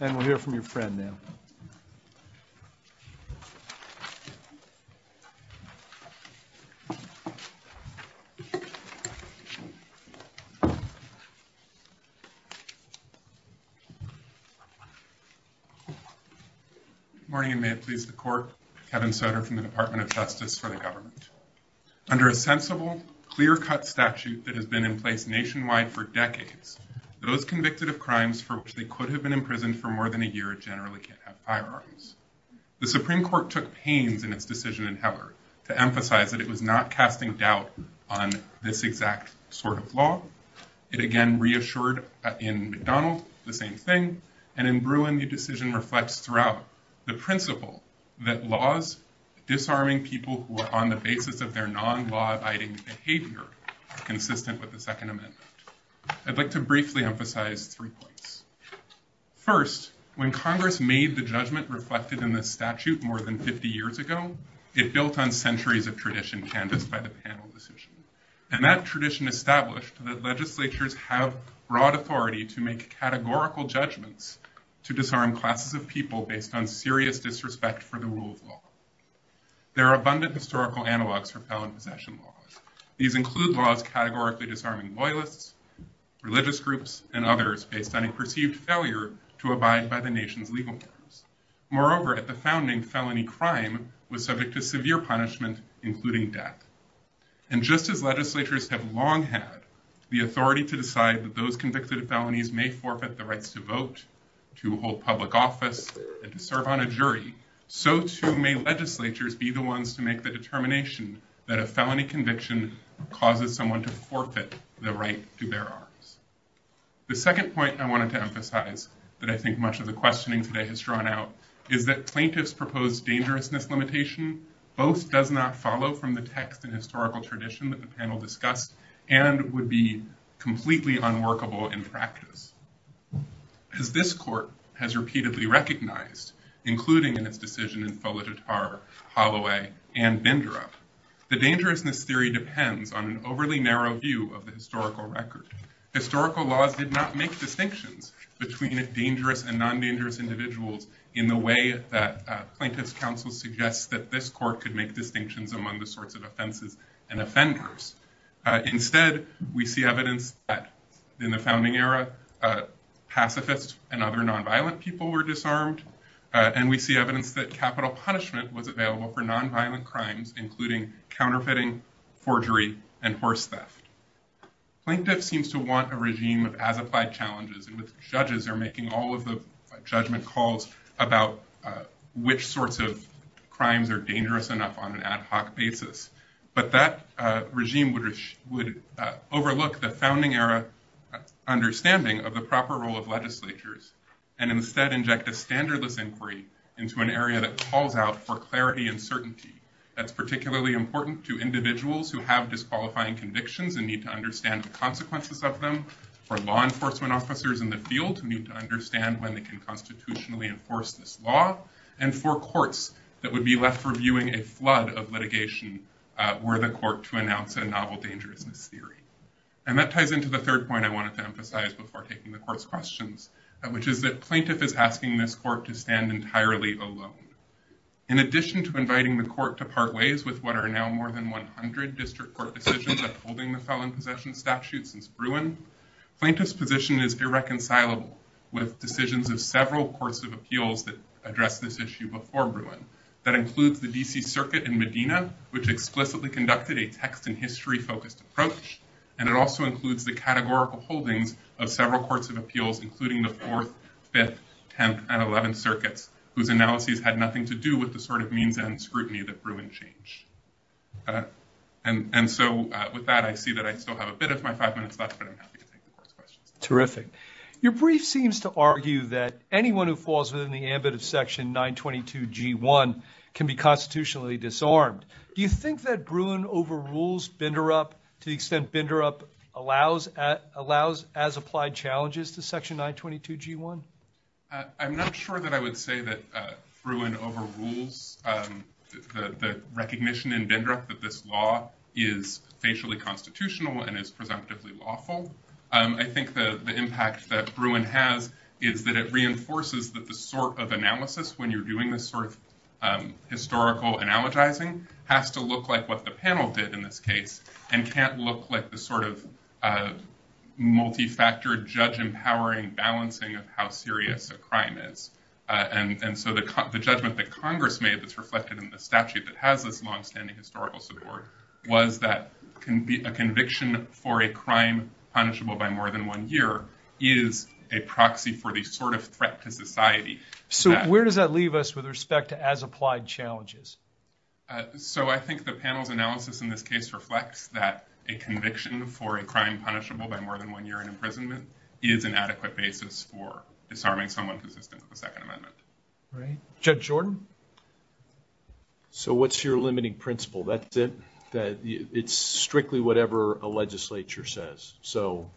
And we'll hear from your friend now. Good morning, and may it please the court. Kevin Sutter from the Department of Justice for the United States. The Supreme Court took pains in its decision in Hebert to emphasize that it was not casting doubt on this exact sort of law. It again reassured in McDonald's the same thing, and in Bruin the decision reflects throughout the principle that laws disarming people who are on the basis of their non-law-abiding behavior are consistent with the Second Amendment. I'd like to briefly emphasize three points. First, when Congress made the judgment reflected in the statute more than 50 years ago, it built on centuries of tradition canvassed by the panel decision, and that tradition established that legislatures have broad authority to make categorical judgments to disarm classes of people based on serious disrespect for the rule of law. There are abundant historical analogs for felon possession laws. These include laws categorically disarming loyalists, religious groups, and others based on a perceived failure to abide by the nation's legal terms. Moreover, at the founding, felony crime was subject to severe punishment, including death. And just as legislatures have long had the authority to decide that those convicted felonies may forfeit the right to vote, to hold public office, and to serve on a jury, so too may legislatures be the ones to make the determination that a felony conviction causes someone to forfeit the right to bear arms. The second point I wanted to emphasize that I think much of the questioning today has thrown out is that plaintiff's proposed dangerousness limitation both does not follow from the text and historical tradition that the panel discussed, and would be completely unworkable in practice. As this court has repeatedly recognized, including in its decision in Folagetar, Holloway, and Bindra, the dangerousness theory depends on an overly narrow view of the historical record. Historical law did not make distinctions between dangerous and non-dangerous individuals in the way that plaintiff's counsel suggests that this court could make distinctions among the sorts of offenses and offenders. Instead, we see evidence that in the founding era, pacifists and other non-violent people were disarmed, and we see evidence that capital punishment was available for non-violent crimes, including counterfeiting, forgery, and force theft. Plaintiff seems to want a regime of adequate challenges in which judges are making all of the judgment calls about which sorts of crimes are dangerous enough on an adequate level. That regime would overlook the founding era understanding of the proper role of legislatures, and instead inject a standard of inquiry into an area that calls out for clarity and certainty. That's particularly important to individuals who have disqualifying convictions and need to understand the consequences of them, for law enforcement officers in the field who need to understand when they can constitutionally enforce this law, and for courts that would be reviewing a flood of litigation were the court to announce a novel danger in this theory. That ties into the third point I wanted to emphasize before taking the court's questions, which is that plaintiff is asking this court to stand entirely alone. In addition to inviting the court to part ways with what are now more than 100 district court decisions upholding the felon possession statute since Bruin, plaintiff's position is irreconcilable with decisions of several courts of appeals that addressed this issue before Bruin. That includes the DC circuit in Medina, which explicitly conducted a text and history focused approach, and it also includes the categorical holdings of several courts of appeals, including the fourth, fifth, tenth, and eleventh circuits, whose analyses had nothing to do with the sort of means and scrutiny that Bruin changed. And so with that I see that I still have a bit of my five minutes left, but I'm happy Terrific. Your brief seems to argue that anyone who falls within the ambit of section 922 g1 can be constitutionally disarmed. Do you think that Bruin overrules Binderup to the extent Binderup allows as applied challenges to section 922 g1? I'm not sure that I would say that Bruin overrules the recognition in Binderup that this law is spatially constitutional and is presumptively lawful. I think the impact that Bruin has is that it reinforces that the sort of analysis, when you're doing this sort of historical analogizing, has to look like what the panel did in this case and can't look like the sort of multi-factor judge empowering balancing of how serious the crime is. And so the judgment that Congress made that's reflected in the statute that has this long-standing historical support was that a conviction for a crime punishable by more than one year is a proxy for the sort of threat to society. So where does that leave us with respect to as applied challenges? So I think the panel's analysis in this case reflects that a conviction for a crime punishable by more than one year in imprisonment is an adequate basis for determining someone's assistance with the Second Amendment. All right. Judge Jordan? So what's your limiting principle? That's it? That it's strictly whatever a legislature says. So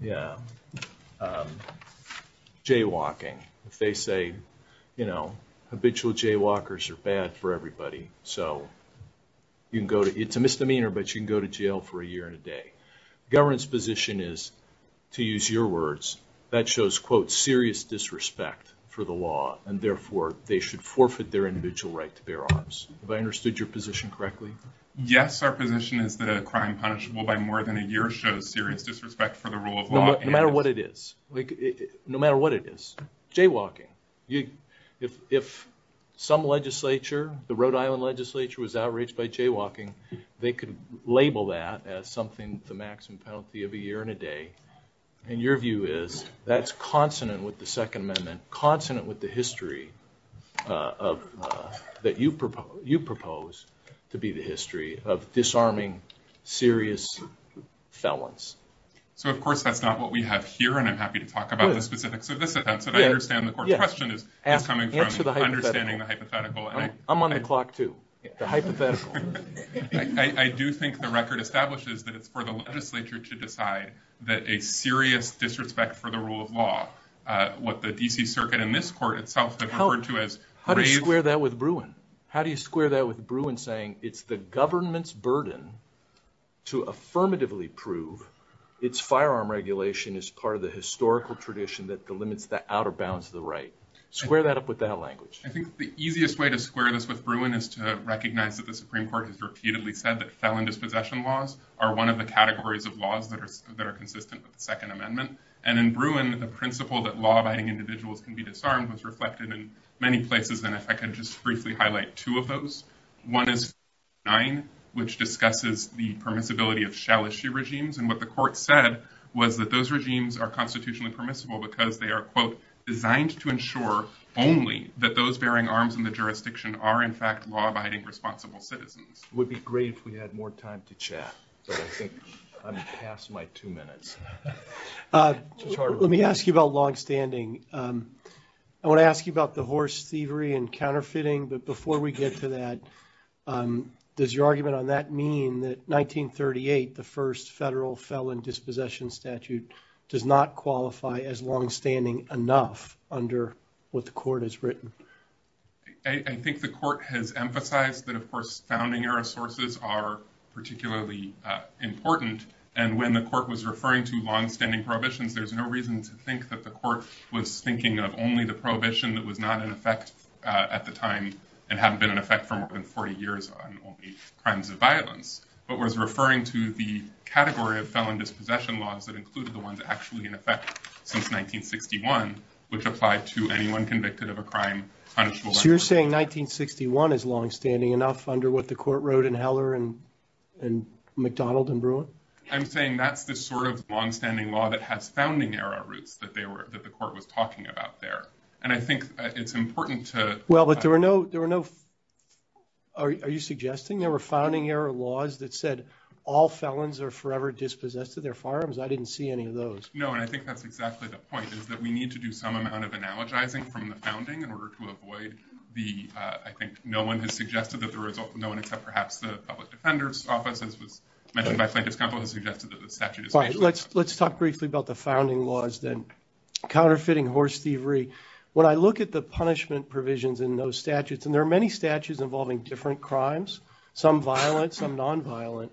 yeah, jaywalking. They say, you know, habitual jaywalkers are bad for everybody. So you can go to, it's a misdemeanor, but you can go to jail for a year and a day. Government's position is, to use your words, that shows, quote, serious disrespect for the law and therefore they should forfeit their individual right to bear arms. Have I understood your position correctly? Yes, our position is that a crime punishable by more than a year shows serious disrespect for the rule of law. No matter what it is. No matter what it is. Jaywalking. If some legislature, the Rhode Island legislature was outraged by jaywalking, they could label that as something, the maximum penalty of a year and a day. And your view is that's consonant with the Second Amendment, consonant with the history that you propose to be the history of disarming serious felons. So of course that's not what we have here and I'm happy to talk about the specifics of this event, but I understand the court's question is coming from understanding the hypothetical. I'm on the clock too. The hypothetical. I do think the record establishes that it's for the legislature to decide that a serious disrespect for the rule of law, what the D.C. Circuit and this court itself have referred to as... How do you square that with Bruin? How do you square that with Bruin saying it's the government's burden to affirmatively prove its firearm regulation is part of the historical tradition that delimits the outer bounds of the right? Square that up with that language. I think the easiest way to square this with Bruin is to recognize that the Supreme Court has repeatedly said that felon dispossession laws are one of the categories of laws that are consistent with the Second Amendment. And in Bruin, the principle that law-abiding individuals can be disarmed was reflected in many places and if I could just briefly highlight two of those. One is 9, which discusses the permissibility of challenge to regimes and what the court said was that those regimes are constitutionally permissible because they are, quote, designed to ensure only that those bearing arms in the jurisdiction are in fact law-abiding responsible citizens. Would be great if we had more time to chat. I think I'm past my two minutes. Let me ask you about longstanding. I want to ask you about divorce, thievery, and counterfeiting, but before we get to that, does your argument on that mean that 1938, the first federal felon dispossession statute, does not qualify as longstanding enough under what the court has written? I think the court has emphasized that, of course, founding era sources are particularly important and when the court was referring to longstanding prohibitions, there's no reason to think that the court was thinking of only the prohibition that was not in effect at the time and has been in effect for more than 40 years on all these crimes of violence, but was referring to the category of felon dispossession laws that included the ones actually in effect since 1961, which applied to anyone convicted of a crime. So you're saying 1961 is longstanding enough under what the court wrote in Heller and McDonald and Bruin? I'm saying that's the sort of longstanding law that has founding era roots that the court was talking about there, and I think it's important to... Well, but there are no... Are you suggesting there were founding era laws that said all felons are forever dispossessed of their firearms? I didn't see any of those. No, and I think that's exactly the point, is that we need to do some amount of analogizing from the founding in order to avoid the... I think no one has suggested that the result... No one except perhaps the public defender's office, as was mentioned by Frank Discompo, has suggested that the statute is... Let's talk briefly about the founding laws then. Counterfeiting, horse thievery. When I look at the punishment provisions in those statutes, and there are many statutes involving different crimes, some violent, some non-violent.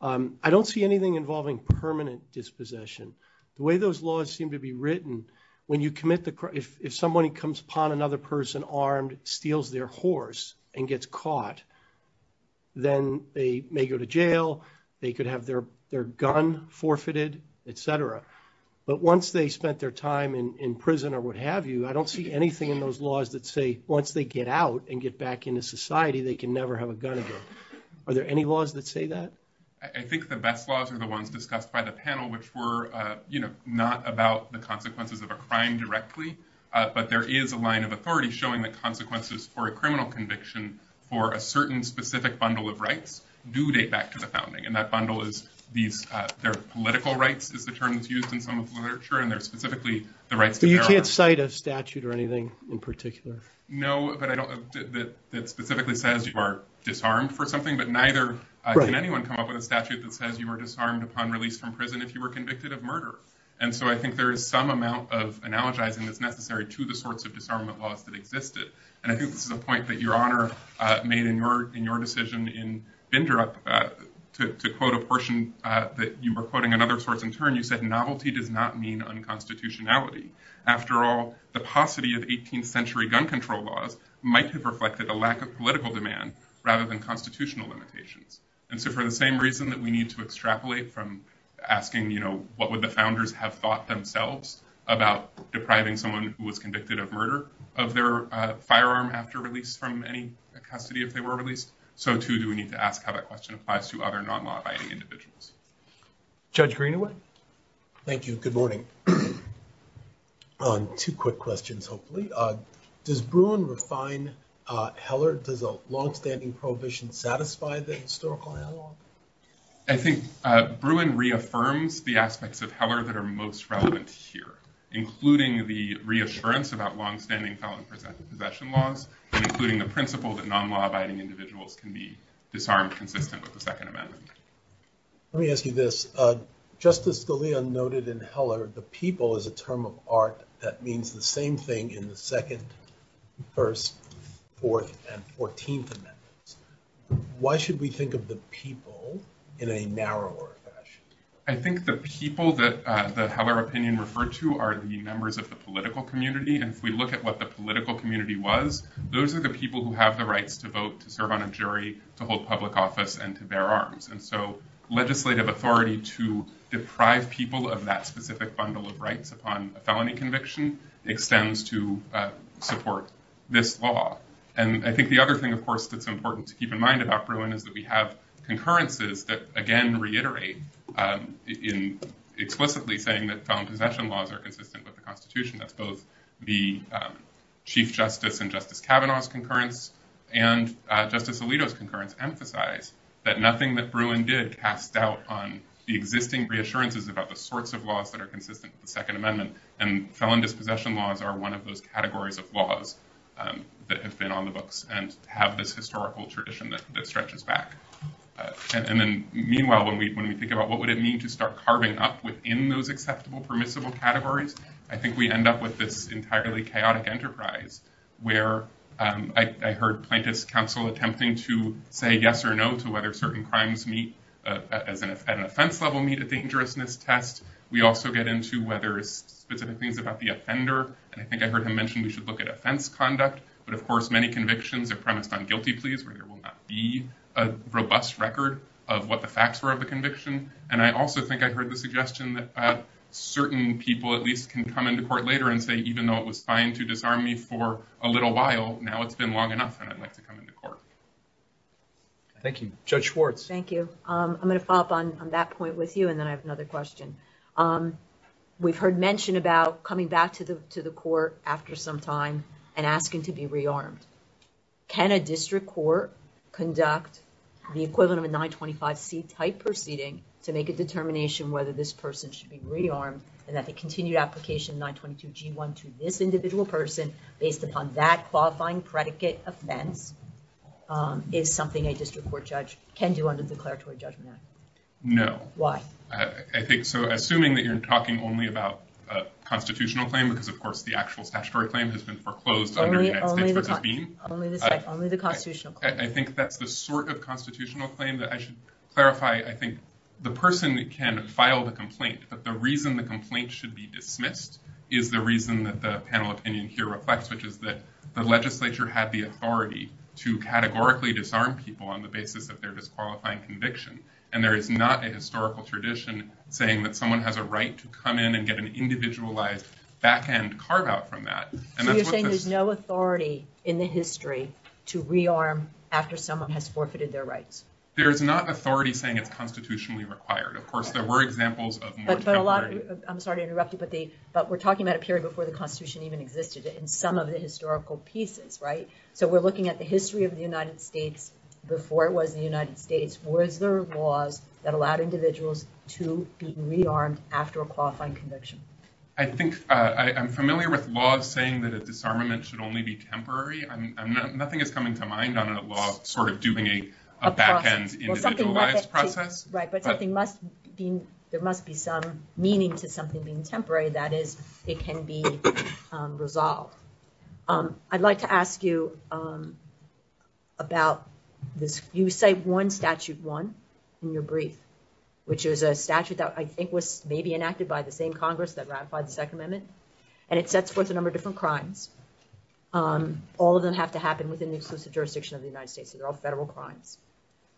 I don't see anything involving permanent dispossession. The way those laws seem to be written, when you commit the... If somebody comes upon another person armed, steals their horse, and gets caught, then they may go to jail, they could have their gun forfeited, et cetera. But once they spent their time in prison or what have you, I don't see anything in those laws that say, once they get out and get back into society, they can never have a gun again. Are there any laws that say that? I think the best laws are the ones discussed by the panel, which were not about the consequences of a crime directly, but there is a line of authority showing the consequences for a criminal conviction for a certain specific bundle of rights do date back to the founding. And that bundle is their political rights, is the term that's used in some of the literature, and they're specifically the rights to... You can't cite a statute or know that specifically says you are disarmed for something, but neither did anyone come up with a statute that says you were disarmed upon release from prison if you were convicted of murder. And so I think there is some amount of analogizing that's necessary to the sorts of disarmament laws that existed. And I think this is a point that Your Honor made in your decision in Bindrup, to quote a portion that you were quoting another source in turn, you said, Novelty does not mean unconstitutionality. After all, the paucity of 18th century gun control laws might have reflected a lack of political demand rather than constitutional limitations. And so for the same reason that we need to extrapolate from asking what would the founders have thought themselves about depriving someone who was convicted of murder of their firearm after release from any custody if they were released, so too do we need to ask how that question applies to other non-law-abiding individuals. Judge Greenaway? Thank you. Good morning. Two quick questions, hopefully. Does Bruin refine Heller? Does a long-standing prohibition satisfy the historical Heller law? I think Bruin reaffirms the aspects of Heller that are most relevant here, including the reassurance about long-standing Heller and possessive possession laws, and including the principle that non-law-abiding individuals can be disarmed consistent with the Second Amendment. Let me ask you this. Justice Scalia noted in Heller the people is a term of art that means the same thing in the Second, First, Fourth, and Fourteenth Amendments. Why should we think of the people in a narrower fashion? I think the people that Heller opinion referred to are the members of the political community, and if we look at what the political community was, those are the people who have the rights to vote, to serve on a jury, to hold public office, and to bear arms. And so legislative authority to deprive people of that specific bundle of rights upon a felony conviction extends to support this law. And I think the other thing, of course, that's important to keep in mind about Bruin is that we have concurrences that, again, reiterate in explicitly saying that felon possession laws are consistent with the Constitution of both the Chief Justice and Justice Kavanaugh's concurrence, and Justice Alito's concurrence emphasized that nothing that Bruin did cast doubt on the existing reassurances about the sorts of laws that are consistent with the Second Amendment, and felon dispossession laws are one of those categories of laws that have been on the books and have this historical tradition that stretches back. And then, meanwhile, when we think about what would it mean to start carving up within those permissible categories, I think we end up with this entirely chaotic enterprise where I heard Plaintiff's Counsel attempting to say yes or no to whether certain crimes meet, at an offense level, meet a dangerousness test. We also get into whether it's specific things about the offender, and I think I heard him mention we should look at offense conduct. But, of course, many convictions are premised on guilty pleas, where there will not be a robust record of what the facts were of the conviction, and I also think I heard the suggestion that certain people, at least, can come into court later and say, even though it was fine to disarm me for a little while, now it's been long enough and I'd like to come into court. Thank you. Judge Schwartz. Thank you. I'm going to follow up on that point with you, and then I have another question. We've heard mention about coming back to the court after some time and asking to be re-armed. Can a district court conduct the equivalent of a 925c type proceeding to make a determination whether this person should be re-armed, and that the continued application of 922g1 to this individual person, based upon that qualifying predicate offense, is something a district court judge can do under the declaratory judgment act? No. Why? I think, so, assuming that you're talking only about a constitutional claim, because, of course, the actual statutory claim has been only the constitutional claim. I think that's the sort of constitutional claim that I should clarify. I think the person can file the complaint, but the reason the complaint should be dismissed is the reason that the panel opinion here reflects, which is that the legislature had the authority to categorically disarm people on the basis of their disqualifying conviction, and there is not a historical tradition saying that someone has a right to come in and get an in the history to re-arm after someone has forfeited their rights. There's not authority saying it's constitutionally required. Of course, there were examples of more... But a lot, I'm sorry to interrupt you, but we're talking about a period before the Constitution even existed in some of the historical pieces, right? So, we're looking at the history of the United States before it was the United States. Were there laws that allowed individuals to be re-armed after a qualifying conviction? I think I'm familiar with laws saying that a disarmament should only be temporary. Nothing is coming to mind on a law sort of doing a back-end individualized process. Right, but there must be some meaning to something being temporary. That is, it can be resolved. I'd like to ask you about... You cite one statute, one in your brief, which is a statute that I think may be enacted by the same Congress that ratified the Second Amendment, and it sets forth a number of different crimes. All of them have to happen within the exclusive jurisdiction of the United States. They're all federal crimes.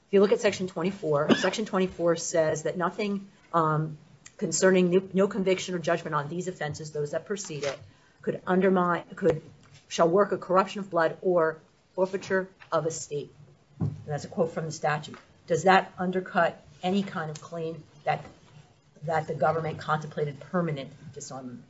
If you look at Section 24, Section 24 says that nothing concerning no conviction or judgment on these offenses, those that precede it, shall work a corruption, a flood, or forfeiture of a state. That's a quote from the statute. Does that undercut any kind of claim that the government contemplated permanent disarmament?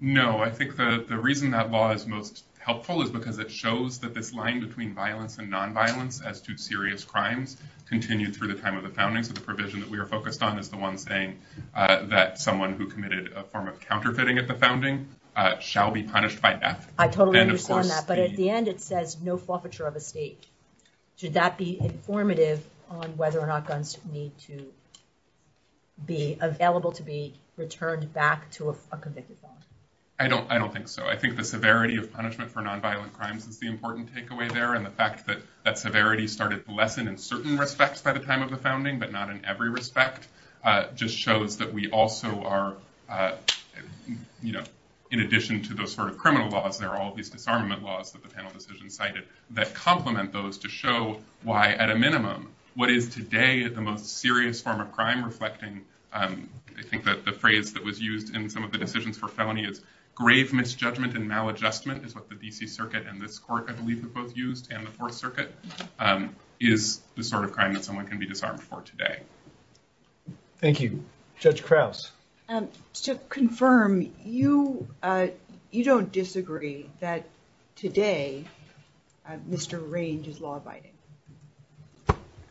No. I think the reason that law is most helpful is because it shows that this line between violence and nonviolence as to serious crimes continued through the time of the founding, so the provision that we are focused on is the one saying that someone who committed a form of counterfeiting at the founding shall be punished by death. I totally agree on that, but at the end it says no forfeiture of a state. Should that be informative on whether or not guns need to be available to be returned back to a convicted form? I don't think so. I think the severity of punishment for nonviolent crimes is the important takeaway there, and the fact that that severity started to lessen in certain respects by the time of the founding, but not in every respect, just shows that we also are, you know, in addition to those sort of criminal laws, there are all these disarmament laws that the panel decision cited that complement those to show why at a minimum what is today is the most serious form of crime reflecting, I think that the phrase that was used in some of the decisions for felony is grave misjudgment and maladjustment is what the D.C. Circuit and this court, I believe, have both used and the Fourth Circuit, is the sort of crime that someone can be disarmed for today. Thank you. Judge Krause? To confirm, you don't disagree that today Mr. Range is law-abiding?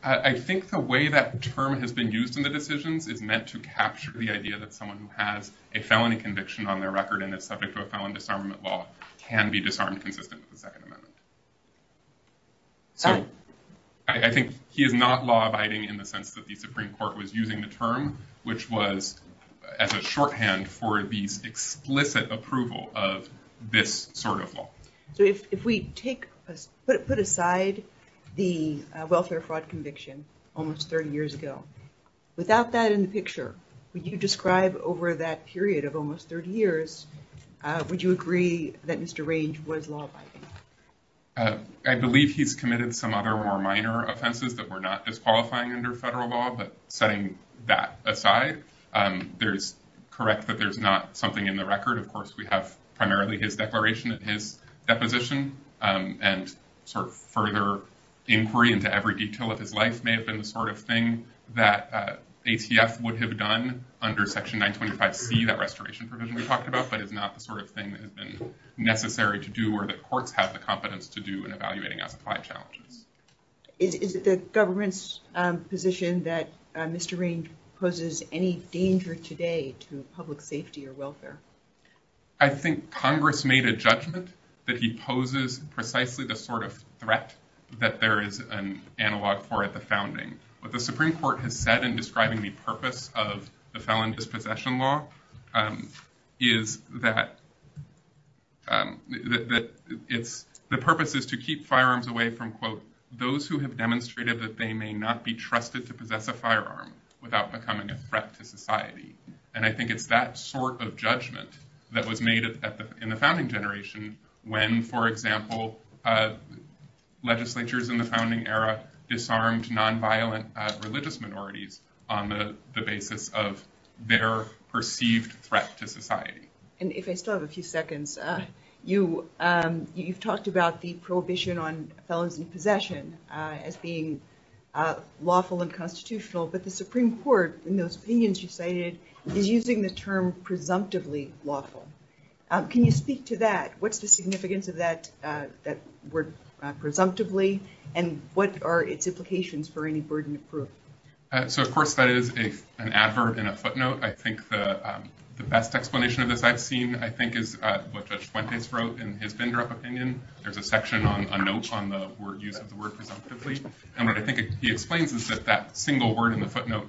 I think the way that term has been used in the decisions is meant to capture the idea that someone who has a felony conviction on their record and is subject to a felon disarmament law can be disarmed since it's the Second Amendment. So, I think he is not law-abiding in the sense that the Supreme Court was using the term, which was as a shorthand for the explicit approval of this sort of law. So, if we take, put aside the welfare fraud conviction almost 30 years ago, without that in the picture, would you describe over that period of almost 30 years, would you agree that Mr. Range was law-abiding? I believe he's committed some other more minor offenses that were not disqualifying under federal law, but setting that aside, there's, correct, but there's not something in the record. Of course, we have primarily his declaration of his deposition and sort of further inquiry into every detail of his life may have been the sort of thing that ATF would have done under Section 925B, that restoration provision we talked about, but it's not the sort of thing that has been necessary to do or the courts have the competence to do in evaluating a supply challenge. Is it the government's position that Mr. Range poses any danger today to public safety or welfare? I think Congress made a judgment that he poses precisely the sort of threat that there is an analog for at the founding. What the Supreme Court has said in describing the purpose of the felon dispossession law is that the purpose is to keep firearms away from, quote, those who have demonstrated that they may not be trusted to possess a firearm without becoming a threat to society. And I think it's that sort of judgment that was made in the founding generation when, for example, legislatures in the founding era disarmed nonviolent religious minorities on the basis of their perceived threat to society. And if I still have a few seconds, you've talked about the prohibition on felon dispossession as being lawful and constitutional, but the Supreme Court, in those opinions you cited, is using the term presumptively lawful. Can you speak to that? What's the significance of that word presumptively and what are its implications for any verdict? So, of course, that is an advert in a footnote. I think the best explanation of this I've seen, I think, is what Judge Fuentes wrote in his vendor of opinion. There's a section on a note on the word presumptively. And what I think he explains is that that single word in the footnote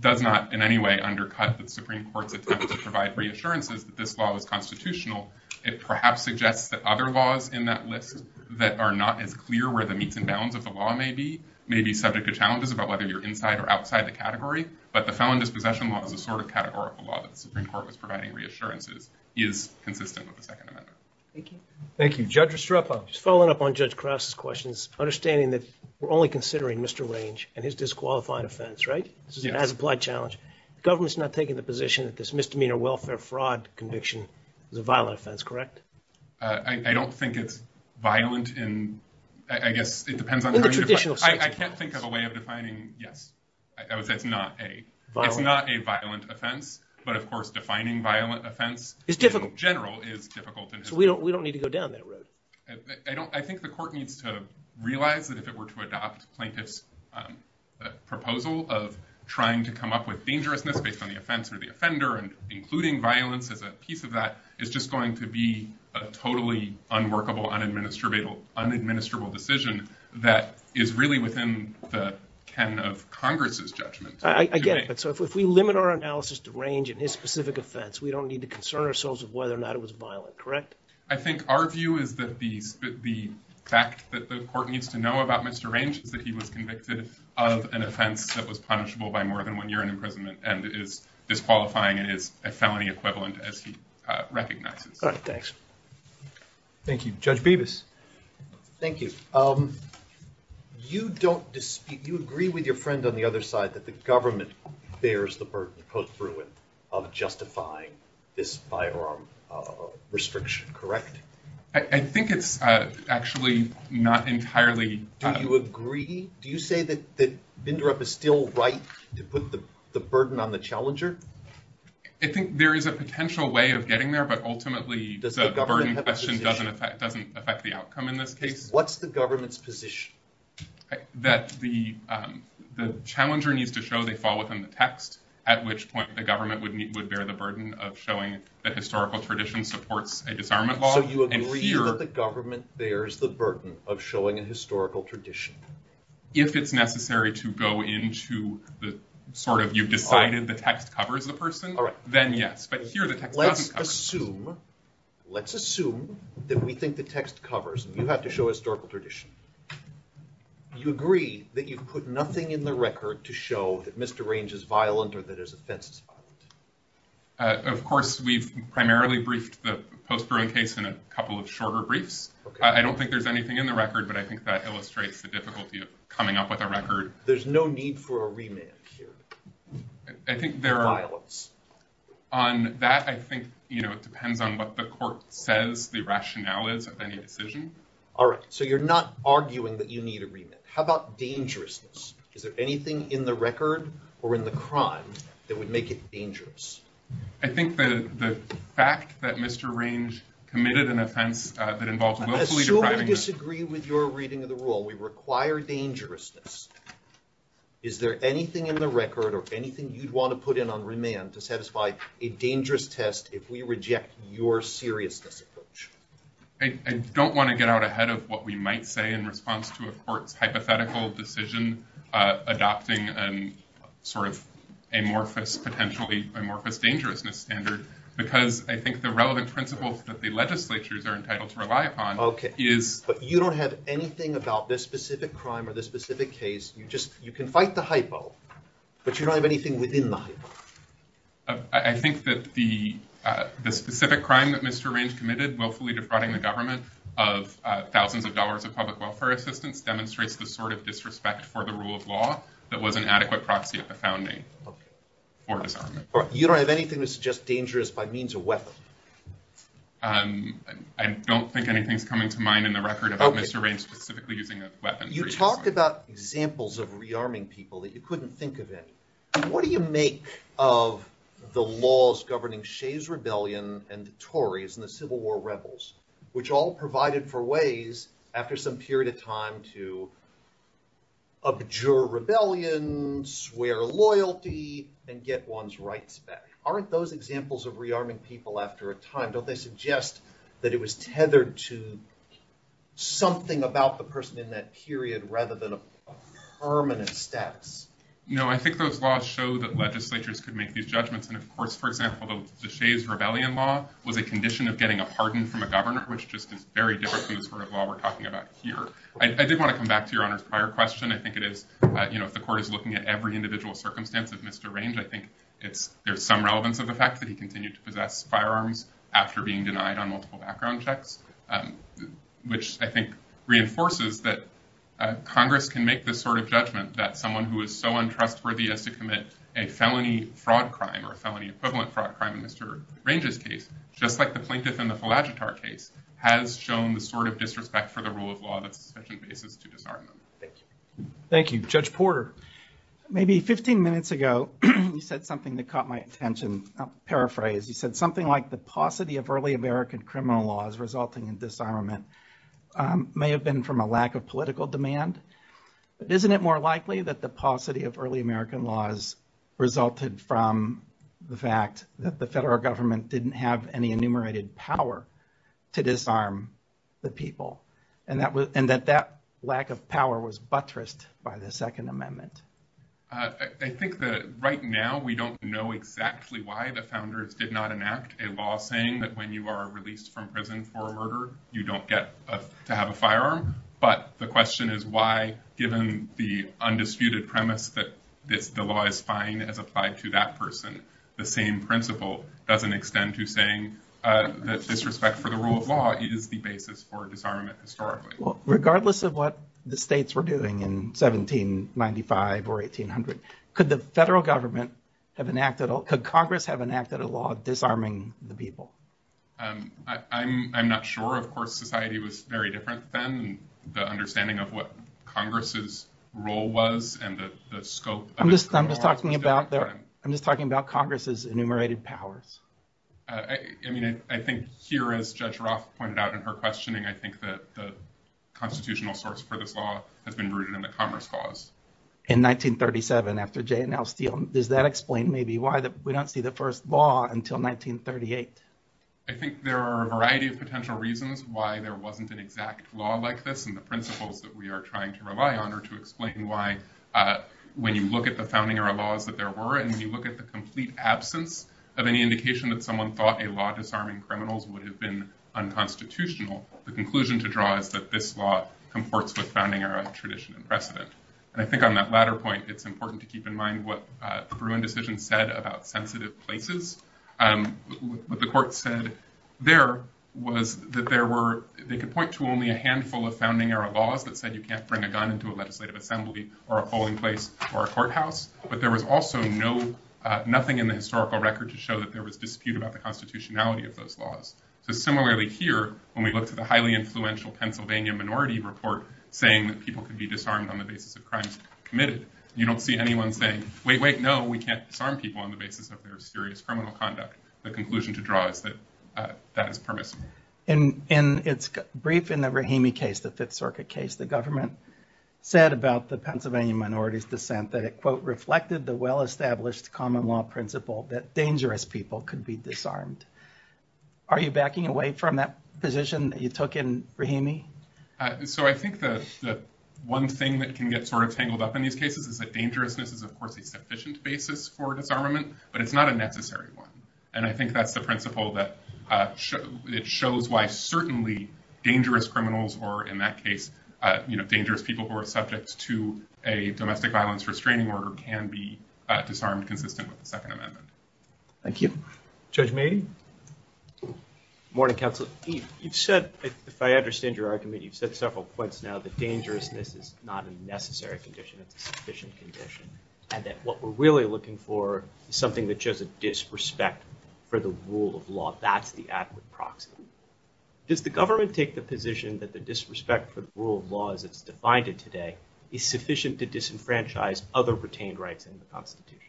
does not in any way undercut the Supreme Court that has to provide reassurances that this law is constitutional. It perhaps suggests that other laws in that list that are not as clear where the meets and bounds of the law may be, may be subject to challenges about whether you're inside or outside the category, but the felon dispossession law is a sort of categorical law that the Supreme Court was providing reassurances is consistent with the Second Amendment. Thank you. Thank you. Judge Estrepo. Just following up on Judge Krause's questions, understanding that we're only considering Mr. Range and his disqualified offense, right? This is an as-applied challenge. The government's not taking the position that misdemeanor welfare fraud conviction is a violent offense, correct? I don't think it's violent in, I guess, it depends on... I can't think of a way of defining, yes. I would say it's not a violent offense, but of course defining violent offense in general is difficult. We don't need to go down that road. I think the court needs to realize that if it were to adopt Plaintiff's of trying to come up with dangerousness based on the offense or the offender and including violence as a piece of that, it's just going to be a totally unworkable, unadministerable decision that is really within the can of Congress's judgment. I guess, but so if we limit our analysis to Range and his specific offense, we don't need to concern ourselves with whether or not it was violent, correct? I think our view is that the fact that the court needs to know about Mr. Range is that he was convicted of an offense that was punishable by more than one year in imprisonment and is disqualifying and is a felony equivalent as he recognized it. Thanks. Thank you. Judge Bevis. Thank you. You don't dispute, you agree with your friend on the other side that the government bears the burden of justifying this firearm restriction, correct? I think it's actually not entirely. Do you agree? Do you say that that Bindrup is still right to put the burden on the challenger? I think there is a potential way of getting there, but ultimately the question doesn't affect the outcome in this case. What's the government's position? That the challenger needs to show they fall within the text, at which point the government would bear the burden of showing that historical tradition supports a disarmament law? Do you agree that the government bears the burden of showing a historical tradition? If it's necessary to go into the sort of, you've decided the text covers the person, then yes, but here the text doesn't cover. Let's assume that we think the text covers, you have to show historical tradition. Do you agree that you put nothing in the record to show that Mr. Range is violent or that his offense is violent? Of course, we've primarily briefed the post-trial case in a couple of shorter briefs. I don't think there's anything in the record, but I think that illustrates the difficulty of coming up with a record. There's no need for a remand here. I think there are... Violence. On that, I think it depends on what the court says, the rationale is of any decision. All right, so you're not arguing that you need a remand. How about dangerousness? Is there anything in the record or in the crimes that would make it dangerous? I think that the fact that Mr. Range committed an offense that involves... I assume we disagree with your reading of the rule. We require dangerousness. Is there anything in the record or anything you'd want to put in on remand to satisfy a dangerous test if we reject your seriousness approach? I don't want to get out ahead of what we might say in response to a court hypothetical decision adopting an amorphous, potentially amorphous dangerousness standard, because I think the relevant principles that the legislatures are entitled to rely upon is... Okay, but you don't have anything about this specific crime or this specific case. You can fight the hypo, but you don't have anything within the hypo. I think that the specific crime that Mr. Range committed, willfully defrauding the government of thousands of dollars of public welfare assistance, demonstrates the sort of disrespect for the rule of law that was an adequate proxy at the founding. You don't have anything that suggests dangerous by means of weapons? I don't think anything's coming to mind in the record about Mr. Range specifically using a weapon. You talked about examples of rearming people that you couldn't think of any. What do you make of the laws governing Shays' Rebellion and the Tories and the Civil War rebels, which all provided for ways, after some period of time, to abjure rebellions, swear loyalty, and get one's rights back? Aren't those examples of rearming people after a time? Don't they suggest that it was tethered to something about the person in that period, rather than a permanent status? I think those laws show that legislatures could make these judgments. And of course, for example, the Shays' Rebellion law was a condition of getting a pardon from a government, which just is very different to the sort of law we're talking about here. I did want to come back to Your Honor's prior question. I think it is, if the court is looking at every individual circumstance of Mr. Range, I think there's some relevance of the fact that he continued to possess firearms after being denied on multiple background checks, which I think reinforces that Congress can make this sort of judgment that someone who is so untrustworthy as to commit a felony fraud crime or a felony equivalent fraud crime in Mr. Range's case, just like the Plinkett and the Falagettar case, has shown the sort of disrespect for the rule of law that the profession faces to disarm them. Thank you. Judge Porter, maybe 15 minutes ago, you said something that caught my attention. I'll paraphrase. You said something like the paucity of early American criminal laws resulting in disarmament may have been from a lack of political demand, but isn't it more likely that the paucity of early American laws resulted from the fact that the federal government didn't have any enumerated power to disarm the people and that that lack of power was buttressed by the Second Amendment? I think that right now, we don't know exactly why the founders did not enact a law saying that when you are released from prison for a murder, you don't get to have a firearm. But the question is why, given the undisputed premise that the law is fine as applied to that person, the same principle doesn't extend to saying that disrespect for the rule of law is the basis for disarmament historically. Regardless of what the states were doing in 1795 or 1800, could the federal government have enacted, could Congress have enacted a law disarming the people? I'm not sure. Of course, society was very different then and the understanding of what Congress's role was and the scope. I'm just talking about Congress's enumerated powers. I mean, I think here, as Judge Roth pointed out in her questioning, I think that the constitutional source for this law has been rooted in the Congress clause. In 1937, after J. N. L. Steele, does that explain maybe why we don't see the first law until 1938? I think there are a variety of potential reasons why there wasn't an exact law like this. And the principles that we are trying to rely on are to explain why when you look at the founding era laws that there were, and when you look at the complete absence of any indication that someone thought a law disarming criminals would have been unconstitutional, the conclusion to draw is that this law conforts with founding era tradition and precedent. And I think on that latter point, it's important to keep in mind what the Bruin decision said about sensitive places. What the court said there was that there were, they could point to only a handful of founding era laws that said you can't bring a gun into a legislative assembly or a polling place or a courthouse, but there was also no, nothing in the historical record to show that there was dispute about the constitutionality of those laws. So similarly here, when we look at the highly influential Pennsylvania minority report saying that people could be disarmed on the basis of crimes committed, you don't see anyone saying, wait, wait, no, we can't disarm people on the basis of their serious criminal conduct. The conclusion to draw is that that is permissible. And it's brief in the Rahimi case, the Fifth Circuit case, the government said about the Pennsylvania minority's dissent that it, quote, reflected the well-established common law principle that dangerous people could be disarmed. Are you backing away from that position that you took in Rahimi? So I think that one thing that can get sort of tangled up in these cases is that dangerousness is, of course, a sufficient basis for disarmament, but it's not a necessary one. And I think that's the principle that it shows why certainly dangerous criminals, or in that case, you know, dangerous people who are subjects to a domestic violence restraining order can be disarmed consistent with the Second Amendment. Thank you. Judge Mayne. Good morning, counsel. You've said, if I understand your argument, you've said several points now that dangerousness is not a necessary condition, a sufficient condition, and that what we're really looking for is something that shows a disrespect for the rule of law. That's the adequate proxy. Does the government take the position that the disrespect for the rule of law as it's defined it today is sufficient to disenfranchise other retained rights in the Constitution?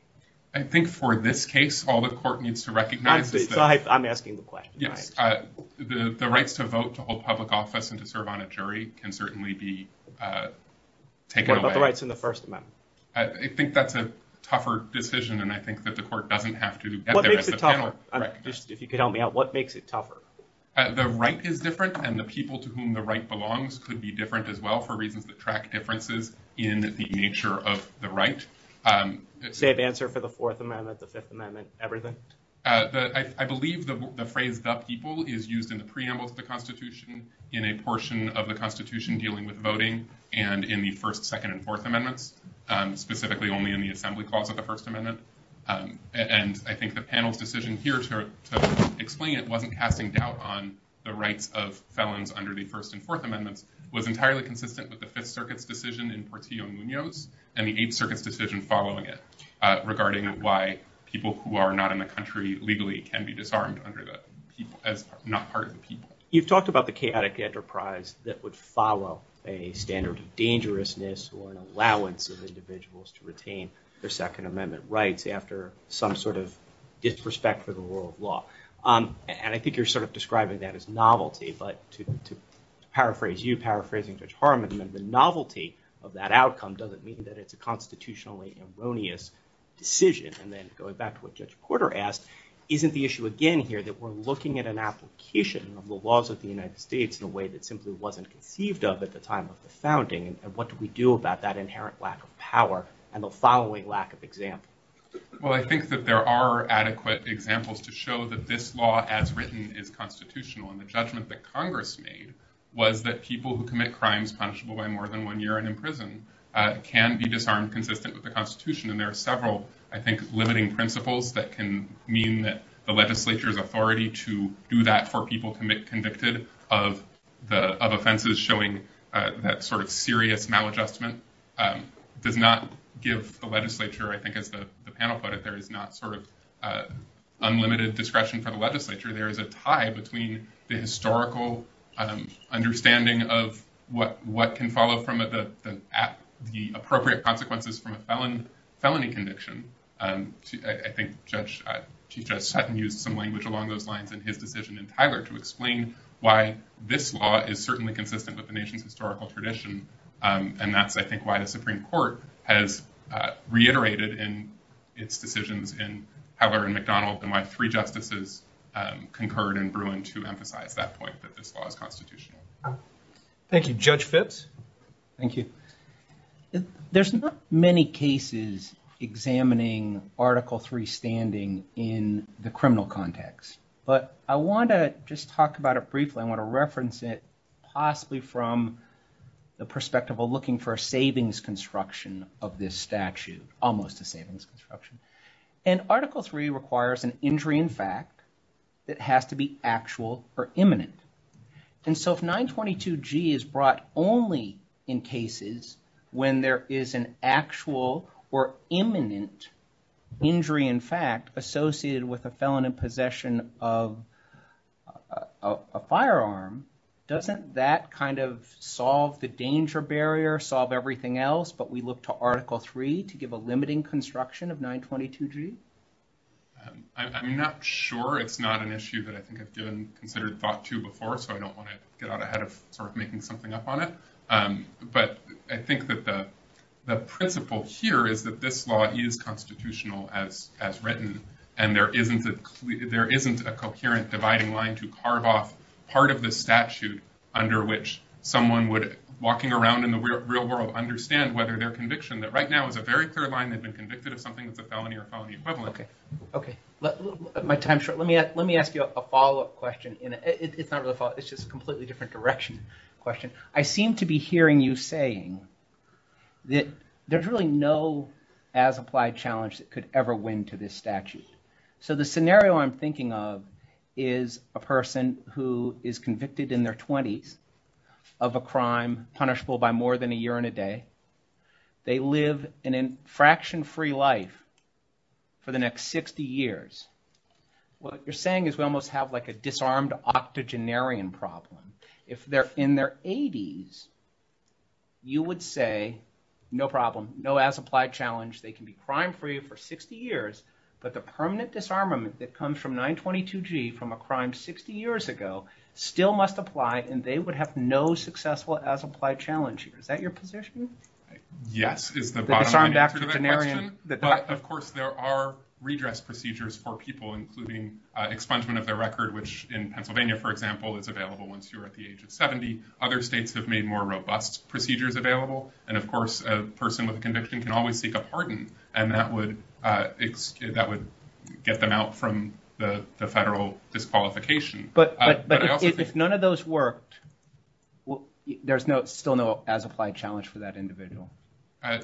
I think for this case, all the court needs to recognize... I'm asking the question. The rights to vote to hold public office and to serve on a jury can certainly be taken away. What about the rights in the First Amendment? I think that's a tougher decision, and I think that the court doesn't have to... What makes it tougher? If you could help me out, what makes it tougher? The right is different, and the people to whom the right belongs could be different as well for reasons that track differences in the nature of the right. The answer for the Fourth Amendment, the Fifth Amendment, everything? I believe the phrase, the people, is used in the preamble of the Constitution in a portion of the Constitution dealing with voting and in the First, Second, and Fourth Amendments, specifically only in the assembly clause of the First Amendment. I think the panel's decision here to explain it wasn't casting doubt on the right of felons under the First and Fourth Amendments. It was entirely consistent with the Fifth Circuit's decision in Portillo-Munoz and the Eighth Circuit's decision following it regarding why people who are not in the country legally can be disarmed as not part of the people. You've talked about the chaotic enterprise that would follow a standard of dangerousness or an allowance of individuals to retain their Second Amendment rights after some sort of disrespect for the rule of law. I think you're sort of describing that as novelty, but to paraphrase you, paraphrasing Judge Harmon, the novelty of that outcome doesn't mean that it's a constitutionally erroneous decision. And then going back to what Judge Porter asked, isn't the issue again here that we're looking at an application of the laws of the United States in a way that simply wasn't conceived of at the time of the founding? And what do we do about that inherent lack of power and the following lack of example? Well, I think that there are adequate examples to show that this law as written is constitutional and the judgment that Congress made was that people who commit crimes punishable by more than one year and in prison can be disarmed, convicted of the Constitution. And there are several, I think, limiting principles that can mean that the legislature's authority to do that for people to make convicted of offenses showing that sort of serious maladjustment does not give the legislature, I think as the panel put it, there is not sort of unlimited discretion for the historical understanding of what can follow from the appropriate consequences from a felony conviction. I think Chief Judge Sutton used some language along those lines in his decision in Tyler to explain why this law is certainly consistent with the nation's historical tradition. And that's, I think, why the Supreme Court has reiterated in its decisions in McDonnell's and why three justices concurred in Bruin to emphasize at that point that this law is constitutional. Thank you. Judge Fitts? Thank you. There's not many cases examining Article III standing in the criminal context, but I want to just talk about it briefly. I want to reference it possibly from the perspective of looking for a savings construction of this statute, almost a savings construction. And it requires an injury in fact that has to be actual or imminent. And so if 922G is brought only in cases when there is an actual or imminent injury in fact associated with a felon in possession of a firearm, doesn't that kind of solve the danger barrier, solve everything else, but we look to Article III to give a limiting construction of 922G? I'm not sure. It's not an issue that I think has been considered thought to before, so I don't want to get out ahead of making something up on it. But I think that the principle here is that this law is constitutional as written, and there isn't a coherent dividing line to carve off part of the statute under which someone would, walking around in the real world, understand whether their conviction that right now is a very clear line they've been convicted of something as a felony or a felony equivalent. Okay. My time's short. Let me ask you a follow-up question. It's not really a follow-up. It's just a completely different direction question. I seem to be hearing you saying that there's really no as-applied challenge that could ever win to this statute. So the scenario I'm thinking of is a person who is convicted in their 20s of a crime punishable by more than a year and a day. They live an infraction-free life for the next 60 years. What you're saying is we almost have like a disarmed octogenarian problem. If they're in their 80s, you would say, no problem, no as-applied challenge. They can be crime-free for 60 years, but the permanent disarmament that comes from 922G from a crime 60 years ago still must apply, and they would have no successful as-applied challenge. Is that your position? Yes. But of course, there are redress procedures for people, including expungement of their record, which in Pennsylvania, for example, is available once you're at the age of 70. Other states have made more robust procedures available, and of course, a person with conviction can always seek a pardon, and that would get them out from the federal disqualification. But if none of those worked, there's still no as-applied challenge for that individual.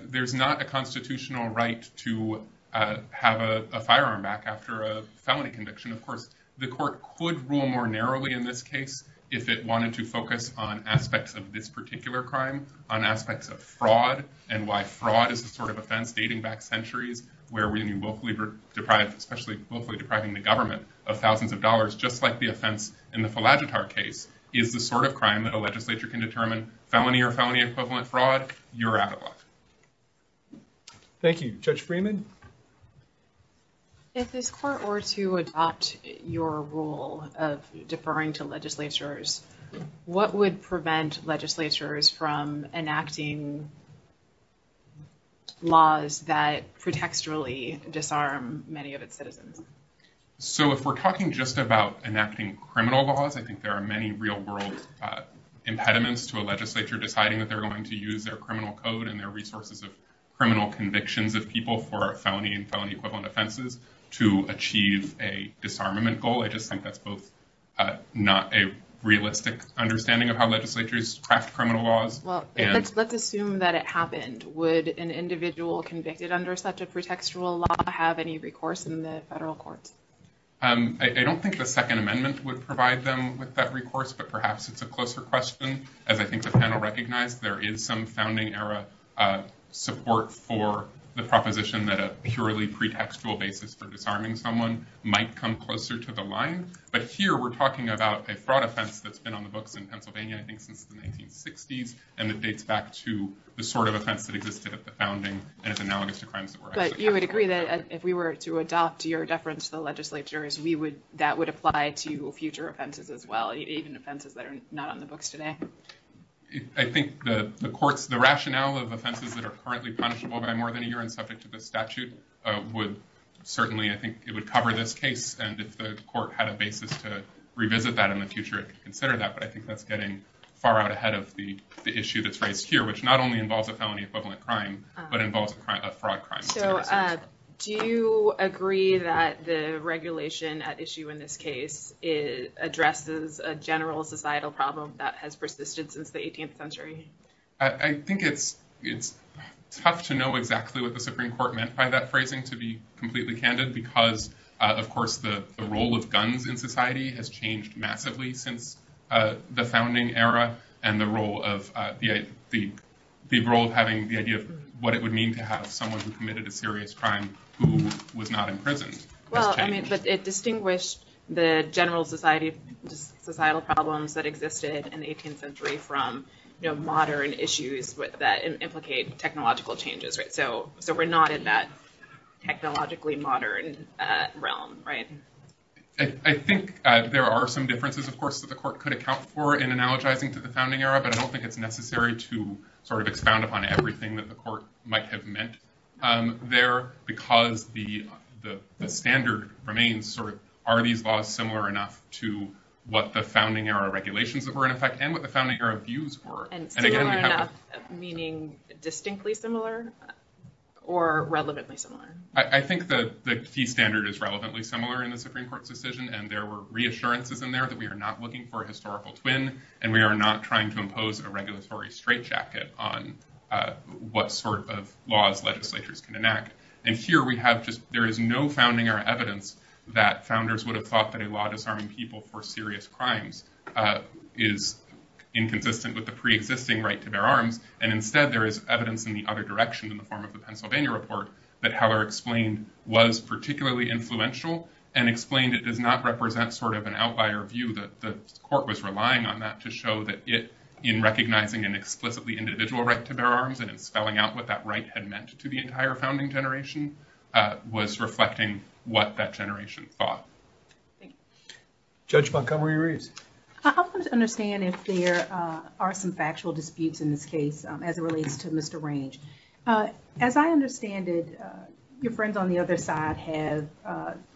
There's not a constitutional right to have a firearm back after a felony conviction, of course. The court could rule more narrowly in this case if it wanted to focus on aspects of this particular crime, on aspects of fraud, and why fraud is the sort of offense dating back centuries where we willfully deprive, especially willfully depriving the government of thousands of dollars, just like the offense in the Palagiatar case, is the sort of crime that a legislature can determine, felony or felony equivalent fraud, you're out of luck. Thank you. Judge Freeman? If this court were to adopt your rule of deferring to legislatures, what would prevent legislatures from enacting laws that protecturally disarm many of its citizens? So if we're talking just about enacting criminal laws, I think there are many real-world impediments to a legislature deciding that they're going to use their criminal code and their resources of criminal convictions of people for felony and felony equivalent offenses to achieve a disarmament goal. I just think that's both not a realistic understanding of how legislatures craft criminal laws. Well, let's assume that it happened. Would an individual convicted under such a pretextual law have any recourse in the federal courts? I don't think the Second Amendment would provide them with that recourse, but perhaps it's a closer question. As I think the panel recognized, there is some pretextual basis for disarming someone. It might come closer to the lines. But here, we're talking about a fraud offense that's been on the books in Pennsylvania, I think, since the 1960s, and it dates back to the sort of offense that existed at the founding and is analogous to crimes of war. But you would agree that if we were to adopt your deference to the legislatures, that would apply to future offenses as well, agent offenses that are not on the books today? I think the rationale of offenses that are currently punishable by more than a year and subject to the statute would certainly, I think, it would cover this case. And if the court had a basis to revisit that in the future, it would consider that. But I think that's getting far out ahead of the issue that's raised here, which not only involves a felony equivalent crime, but involves a fraud crime. So do you agree that the regulation at issue in this case addresses a general societal problem that has persisted since the 18th century? I think it's tough to know exactly what the Supreme Court meant by that phrasing, to be completely candid, because, of course, the role of guns in society has changed massively since the founding era and the role of having the idea of what it would mean to have someone who committed a serious crime who was not imprisoned. Well, I mean, it distinguished the general societal problems that existed in the 18th century from modern issues that implicate technological changes. So we're not in that technologically modern realm, right? I think there are some differences, of course, that the court could account for in analogizing to the founding era, but I don't think it's necessary to sort of expound upon everything that the court might have meant there, because the standard remains sort of, are these laws similar enough to what the founding era regulations that were in effect and what the founding era views were? And similar enough meaning distinctly similar or relatively similar? I think the key standard is relatively similar in the Supreme Court's decision, and there were reassurances in there that we are not looking for a historical twin, and we are not trying to impose a regulatory straitjacket on what sort of laws legislatures can enact. And here we have just, there is no founding era evidence that founders would have thought that a law disarming people for serious crimes is inconsistent with the preexisting right to their arms. And instead, there is evidence in the other direction in the form of the Pennsylvania report that Heller explained was particularly influential and explained it does not represent sort of an outlier view that the court was relying on that to show that it, in recognizing an explicitly individual right to their arms and spelling out what that right had meant to the entire founding generation, was reflecting what that generation thought. Judge Montgomery-Reese. I want to understand if there are some factual disputes in this case as it relates to Mr. Range. As I understand it, your friend on the other side has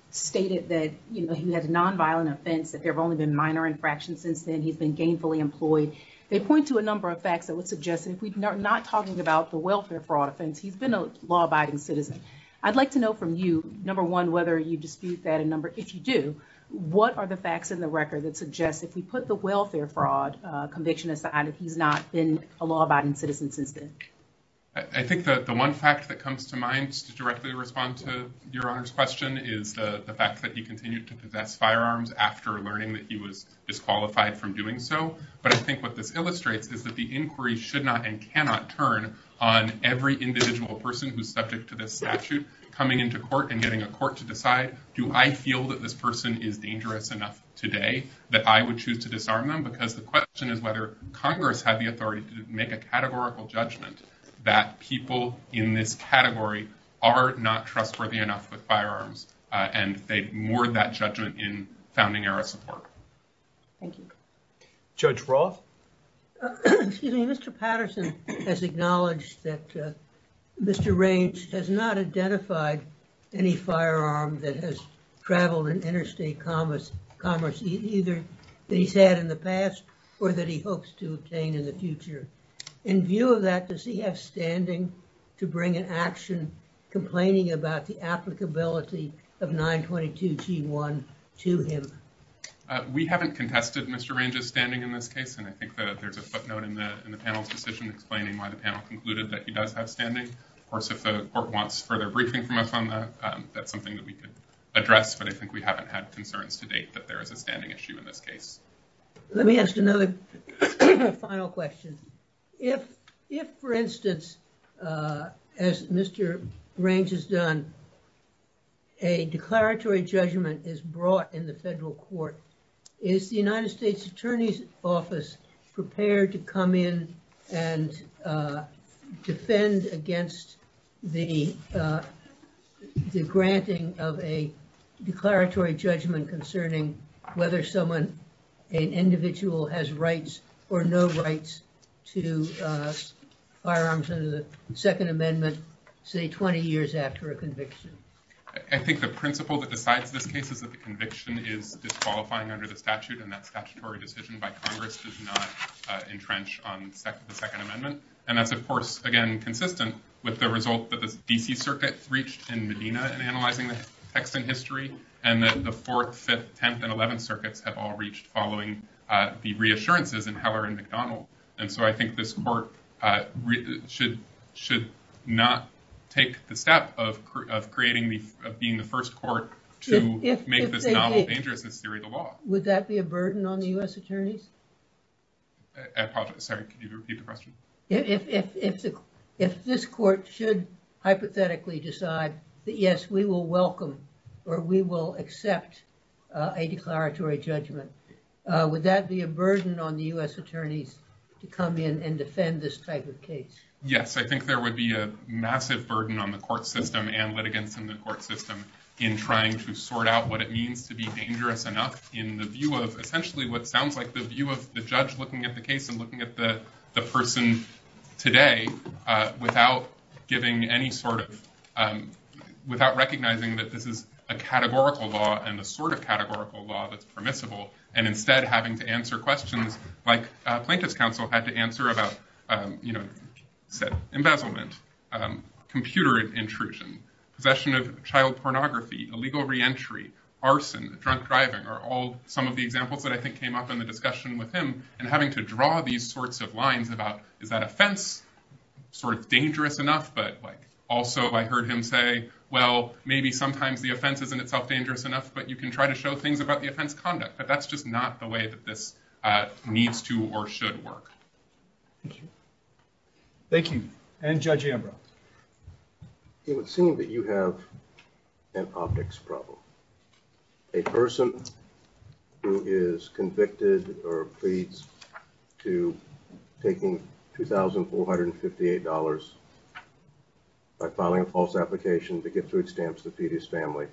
stated that, you know, he had a nonviolent offense, that there have only been minor infractions since then, he's been gainfully employed. They point to a number of facts that would suggest that if we're not talking about the welfare fraud offense, he's been a law-abiding citizen. I'd like to know from you, number one, whether you dispute that a number, if you do, what are the facts in the record that suggest if we put the welfare fraud conviction aside, that he's not been a law-abiding citizen since then? I think that the one fact that comes to mind to directly respond to your Honor's question is the fact that he continued to possess firearms after learning that he was disqualified from doing so. But I think what this illustrates is that the inquiry should not and cannot turn on every individual person who's subject to this statute coming into court and getting a court to decide, do I feel that this person is dangerous enough today that I would choose to disarm them? Because the question is whether Congress had the authority to make a categorical judgment that people in this category are not trustworthy enough with firearms, and they moored that judgment in founding era support. Thank you. Judge Frost? Excuse me, Mr. Patterson has acknowledged that Mr. Raines has not identified any firearm that has traveled in interstate commerce either that he's had in the past or that he hopes to obtain in the future. In view of that, does he have standing to bring an action complaining about the applicability of 922g1 to him? We haven't contested Mr. Raines' standing in this case, and I think that there's a footnote in the panel's decision explaining why the panel concluded that he does have standing. Of course, if the court wants further briefing from us on that's something that we can address, but I think we haven't had concerns to date that there is a standing issue in this case. Let me ask another final question. If, for instance, as Mr. Raines has done, a declaratory judgment is brought in the federal court, is the United States Attorney's to come in and defend against the granting of a declaratory judgment concerning whether someone, an individual, has rights or no rights to firearms under the Second Amendment, say, 20 years after a conviction? I think the principle that decides the cases of the conviction is disqualifying under the statute, and that statutory decision by Congress is not entrenched on the Second Amendment, and that's, of course, again, consistent with the results that the D.C. Circuit reached in Medina in analyzing the Texan history, and then the Fourth, Fifth, Tenth, and Eleventh Circuits have all reached following the reassurances in Heller and McDonald, and so I think this court should not take the step of being the first court to make this theory the law. Would that be a burden on the U.S. Attorneys? I apologize. Could you repeat the question? If this court should hypothetically decide that, yes, we will welcome or we will accept a declaratory judgment, would that be a burden on the U.S. Attorneys to come in and defend this type of case? Yes, I think there would be a massive burden on the court system and litigants in the court system in trying to sort out what it means to be dangerous enough in the view of essentially what sounds like the view of the judge looking at the case and looking at the person today without giving any sort of, without recognizing that this is a categorical law and the sort of categorical law that's permissible, and instead having to answer questions like a Plaintiff's reentry, arson, drunk driving are all some of the examples that I think came up in the discussion with him, and having to draw these sorts of lines about is that offense sort of dangerous enough, but also I heard him say, well, maybe sometimes the offense isn't itself dangerous enough, but you can try to show things about the offense conduct, but that's just not the way that this needs to or should work. Thank you. And Judge Ambrose. It would seem that you have an optics problem. A person who is convicted or pleads to taking $2,458 by filing a false application to get to extant to feed his family,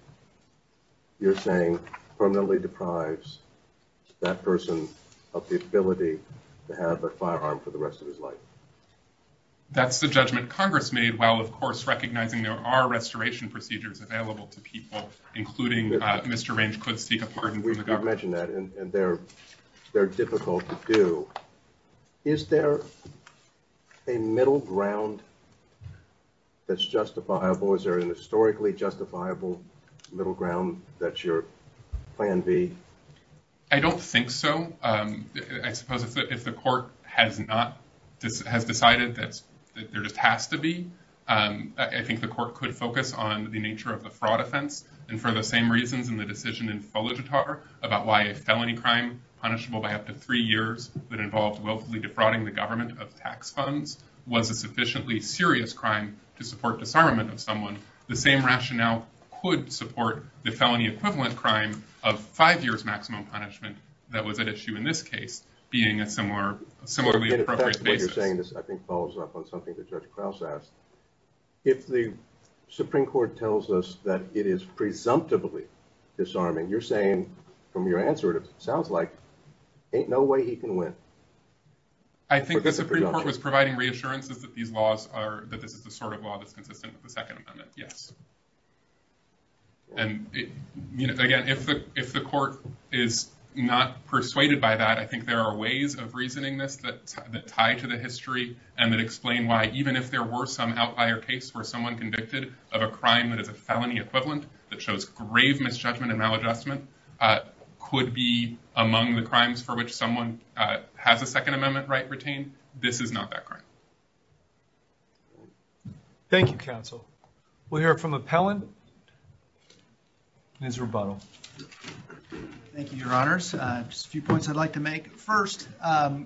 you're saying permanently deprives that person of the ability to have a firearm for the rest of his life. That's the judgment Congress made while, of course, recognizing there are restoration procedures available to people, including Mr. Range could seek a pardon. We've mentioned that and they're, they're difficult to do. Is there a middle ground that's justifiable? Is there an historically justifiable middle ground that your plan be? I don't think so. I suppose if the court has not, has decided that there just has to be, I think the court could focus on the nature of the fraud offense. And for the same reasons in the decision in Soledadar about why a felony crime punishable by up to three years that involves locally defrauding the government of tax funds was a sufficiently serious crime to support disarmament of someone, the same rationale could support the felony equivalent crime of five years maximum punishment. That was an issue in this case, being a similar, similar to what you're saying. This, I think, follows up on something that Judge Krause asked. If the Supreme Court tells us that it is presumptively disarming, you're saying from your answer, it sounds like ain't no way he can win. I think that the Supreme Court was providing reassurances that these laws are, that this is the sort of law that's consistent with the Second Amendment. Yes. And, you know, again, if the court is not persuaded by that, I think there are ways of reasoning that tie to the history and that explain why, even if there were some outlier case where someone convicted of a crime that is a felony equivalent that shows grave misjudgment and maladjustment, could be among the crimes for which someone has a Second Amendment right retained, this is not that crime. Thank you, counsel. We'll hear from appellant, and then to rebuttal. Thank you, your honors. Just a few points I'd like to make. First,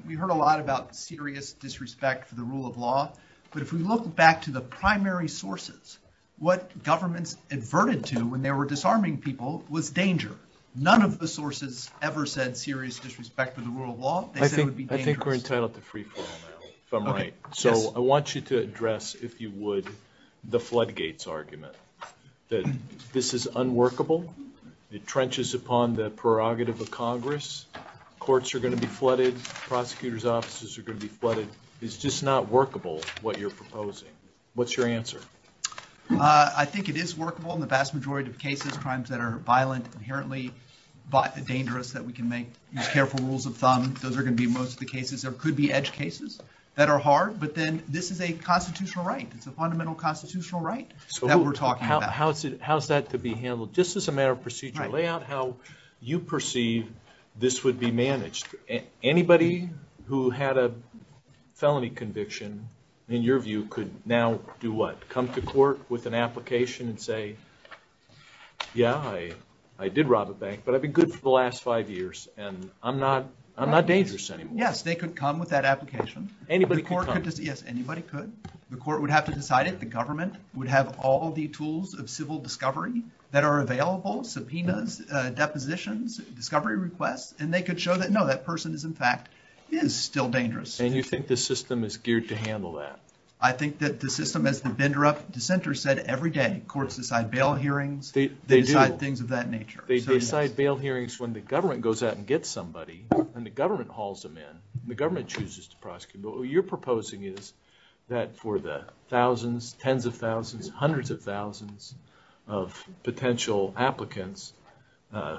we heard a lot about serious disrespect for the rule of law, but if we look back to the primary sources, what governments adverted to when they were disarming people was danger. None of the sources ever said serious disrespect for the rule of law. I think we're entitled to free for all now. So I want you to address, if you would, the floodgates argument that this is unworkable. It trenches upon the prerogative of Congress. Courts are going to be flooded. Prosecutors' offices are going to be flooded. It's just not workable, what you're proposing. What's your answer? I think it is workable in the vast majority of cases, crimes that are violent, inherently dangerous, that we can make careful rules of thumb. Those are going to be most of cases that are hard, but then this is a constitutional right. It's a fundamental constitutional right that we're talking about. How's that to be handled? Just as a matter of procedure, lay out how you perceive this would be managed. Anybody who had a felony conviction, in your view, could now do what? Come to court with an application and say, yeah, I did rob a bank, but I've been good for the last five years, and I'm not dangerous anymore. Yes, they could come with that application. Anybody could come? Yes, anybody could. The court would have to decide it. The government would have all the tools of civil discovery that are available, subpoenas, depositions, discovery requests, and they could show that, no, that person is, in fact, is still dangerous. And you think the system is geared to handle that? I think that the system, as the Bindrup dissenter said every day, courts decide bail hearings. They do. They decide things of that nature. They decide bail hearings when the government goes out and gets somebody, and the government hauls them in, and the government chooses to prosecute. But what you're proposing is that for the thousands, tens of thousands, hundreds of thousands of potential applicants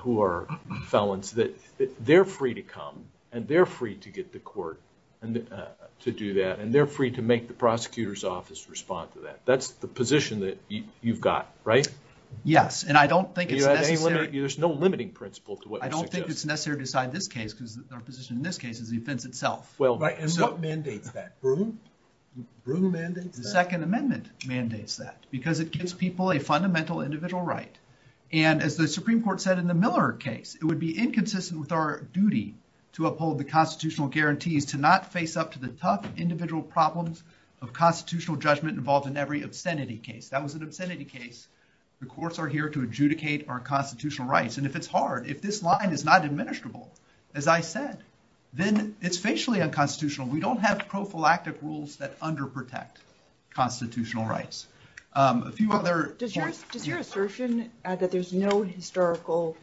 who are felons, that they're free to come, and they're free to get to court to do that, and they're free to make the prosecutor's office respond to that. That's the position that you've got, right? Yes, and I don't think it's necessary... There's no limiting principle to what... I don't think it's necessary to decide this case, because our position in this case is the offense itself. Well, and who mandates that? The second amendment mandates that, because it gives people a fundamental individual right. And as the Supreme Court said in the Miller case, it would be inconsistent with our duty to uphold the constitutional guarantees to not face up to the tough individual problems of constitutional judgment involved in every obscenity case. That was an obscenity case. The courts are here to adjudicate our constitutional rights, and if it's hard, if this line is not administrable, as I said, then it's facially unconstitutional. We don't have prophylactic rules that under-protect constitutional rights. A few other... Does your assertion that there's no historical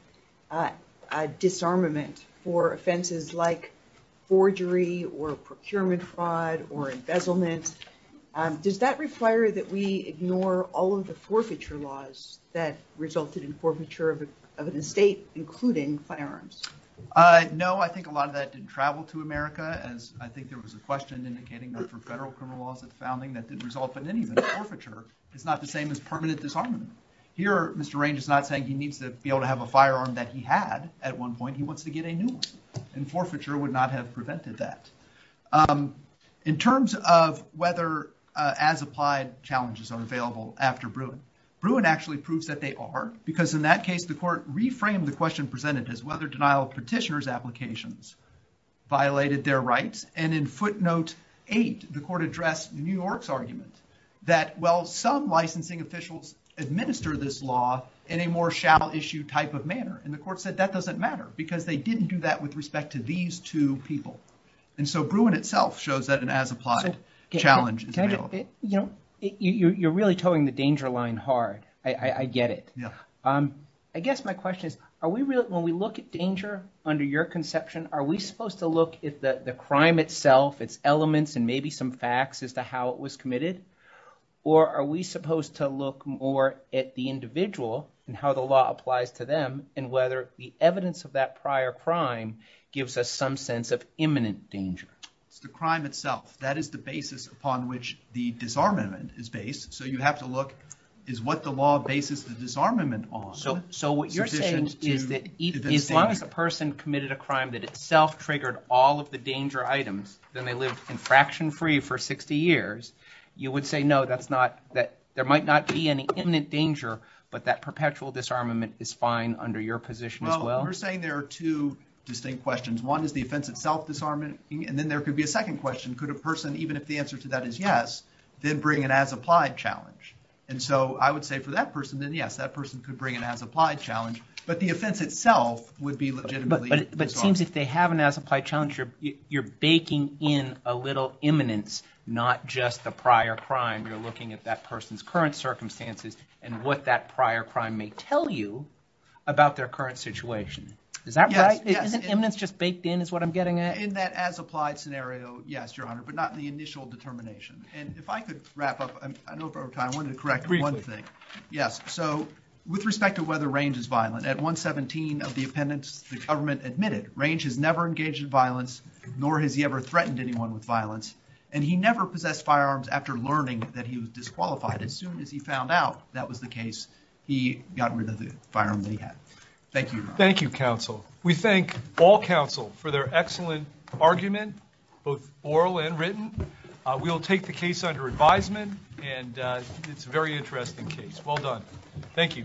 disarmament for offenses like forgery or procurement fraud or embezzlement, does that require that we ignore all of the forfeiture laws that resulted in forfeiture of an estate, including firearms? No, I think a lot of that didn't travel to America, as I think there was a question indicating that for federal criminal laws at the founding that didn't result in anything. Forfeiture is not the same as permanent disarmament. Here, Mr. Raines is not saying he needs to be able to have a firearm that he had at one point. He wants to get a new one, and forfeiture would not have prevented that. In terms of whether as-applied challenges are available after Bruin, Bruin actually proves that they are, because in that case, the court reframed the question presented as whether denial of petitioner's applications violated their rights, and in footnote 8, the court addressed New York's argument that while some licensing officials administer this law in a more shall-issue type of manner, and the court said that doesn't matter because they didn't do that with respect to these two people. And so, Bruin itself shows that an as-applied challenge is available. You're really towing the danger line hard. I get it. I guess my question is, when we look at danger under your conception, are we supposed to look at the crime itself, its elements, and maybe some facts as to how it was committed, or are we supposed to look more at the individual and how the law applies to them, and whether the evidence of that prior crime gives us some sense of imminent danger? The crime itself. That is the basis upon which the disarmament is based. So, you have to look, is what the law bases the disarmament on? So, what you're saying is that as long as the person committed a crime that itself triggered all of the danger items, then they lived infraction-free for 60 years, you would say, no, there might not be any imminent danger, but that perpetual disarmament is fine under your position as well? Well, we're saying there are two distinct questions. One is the offense itself disarmament, and then there could be a second question. Could a person, even if the answer to that is yes, then bring an as-applied challenge? And so, I would say for that person, then yes, that person could bring an as-applied challenge, but the offense itself would be legitimately disarmed. But it seems if they have an as-applied challenge, you're baking in a little imminence, not just the prior crime. You're looking at that person's current circumstances and what that prior crime may tell you about their current situation. Is that right? Isn't imminence just baked in, is what I'm getting at? In that as-applied scenario, yes, Your Honor, but not in the initial determination. And if I could wrap up, I don't know if I have time, I wanted to correct one thing. Yes. So, with respect to whether Range is violent, at 117 of the appendix, the government admitted Range has never engaged in violence, nor has he ever threatened anyone with violence, and he never possessed firearms after learning that he was disqualified. As soon as he found out that was the case, he got rid of the firearm that he had. Thank you. Thank you, counsel. We thank all counsel for their excellent argument, both oral and written. We'll take the case under advisement, and it's a very interesting case. Well done. Thank you.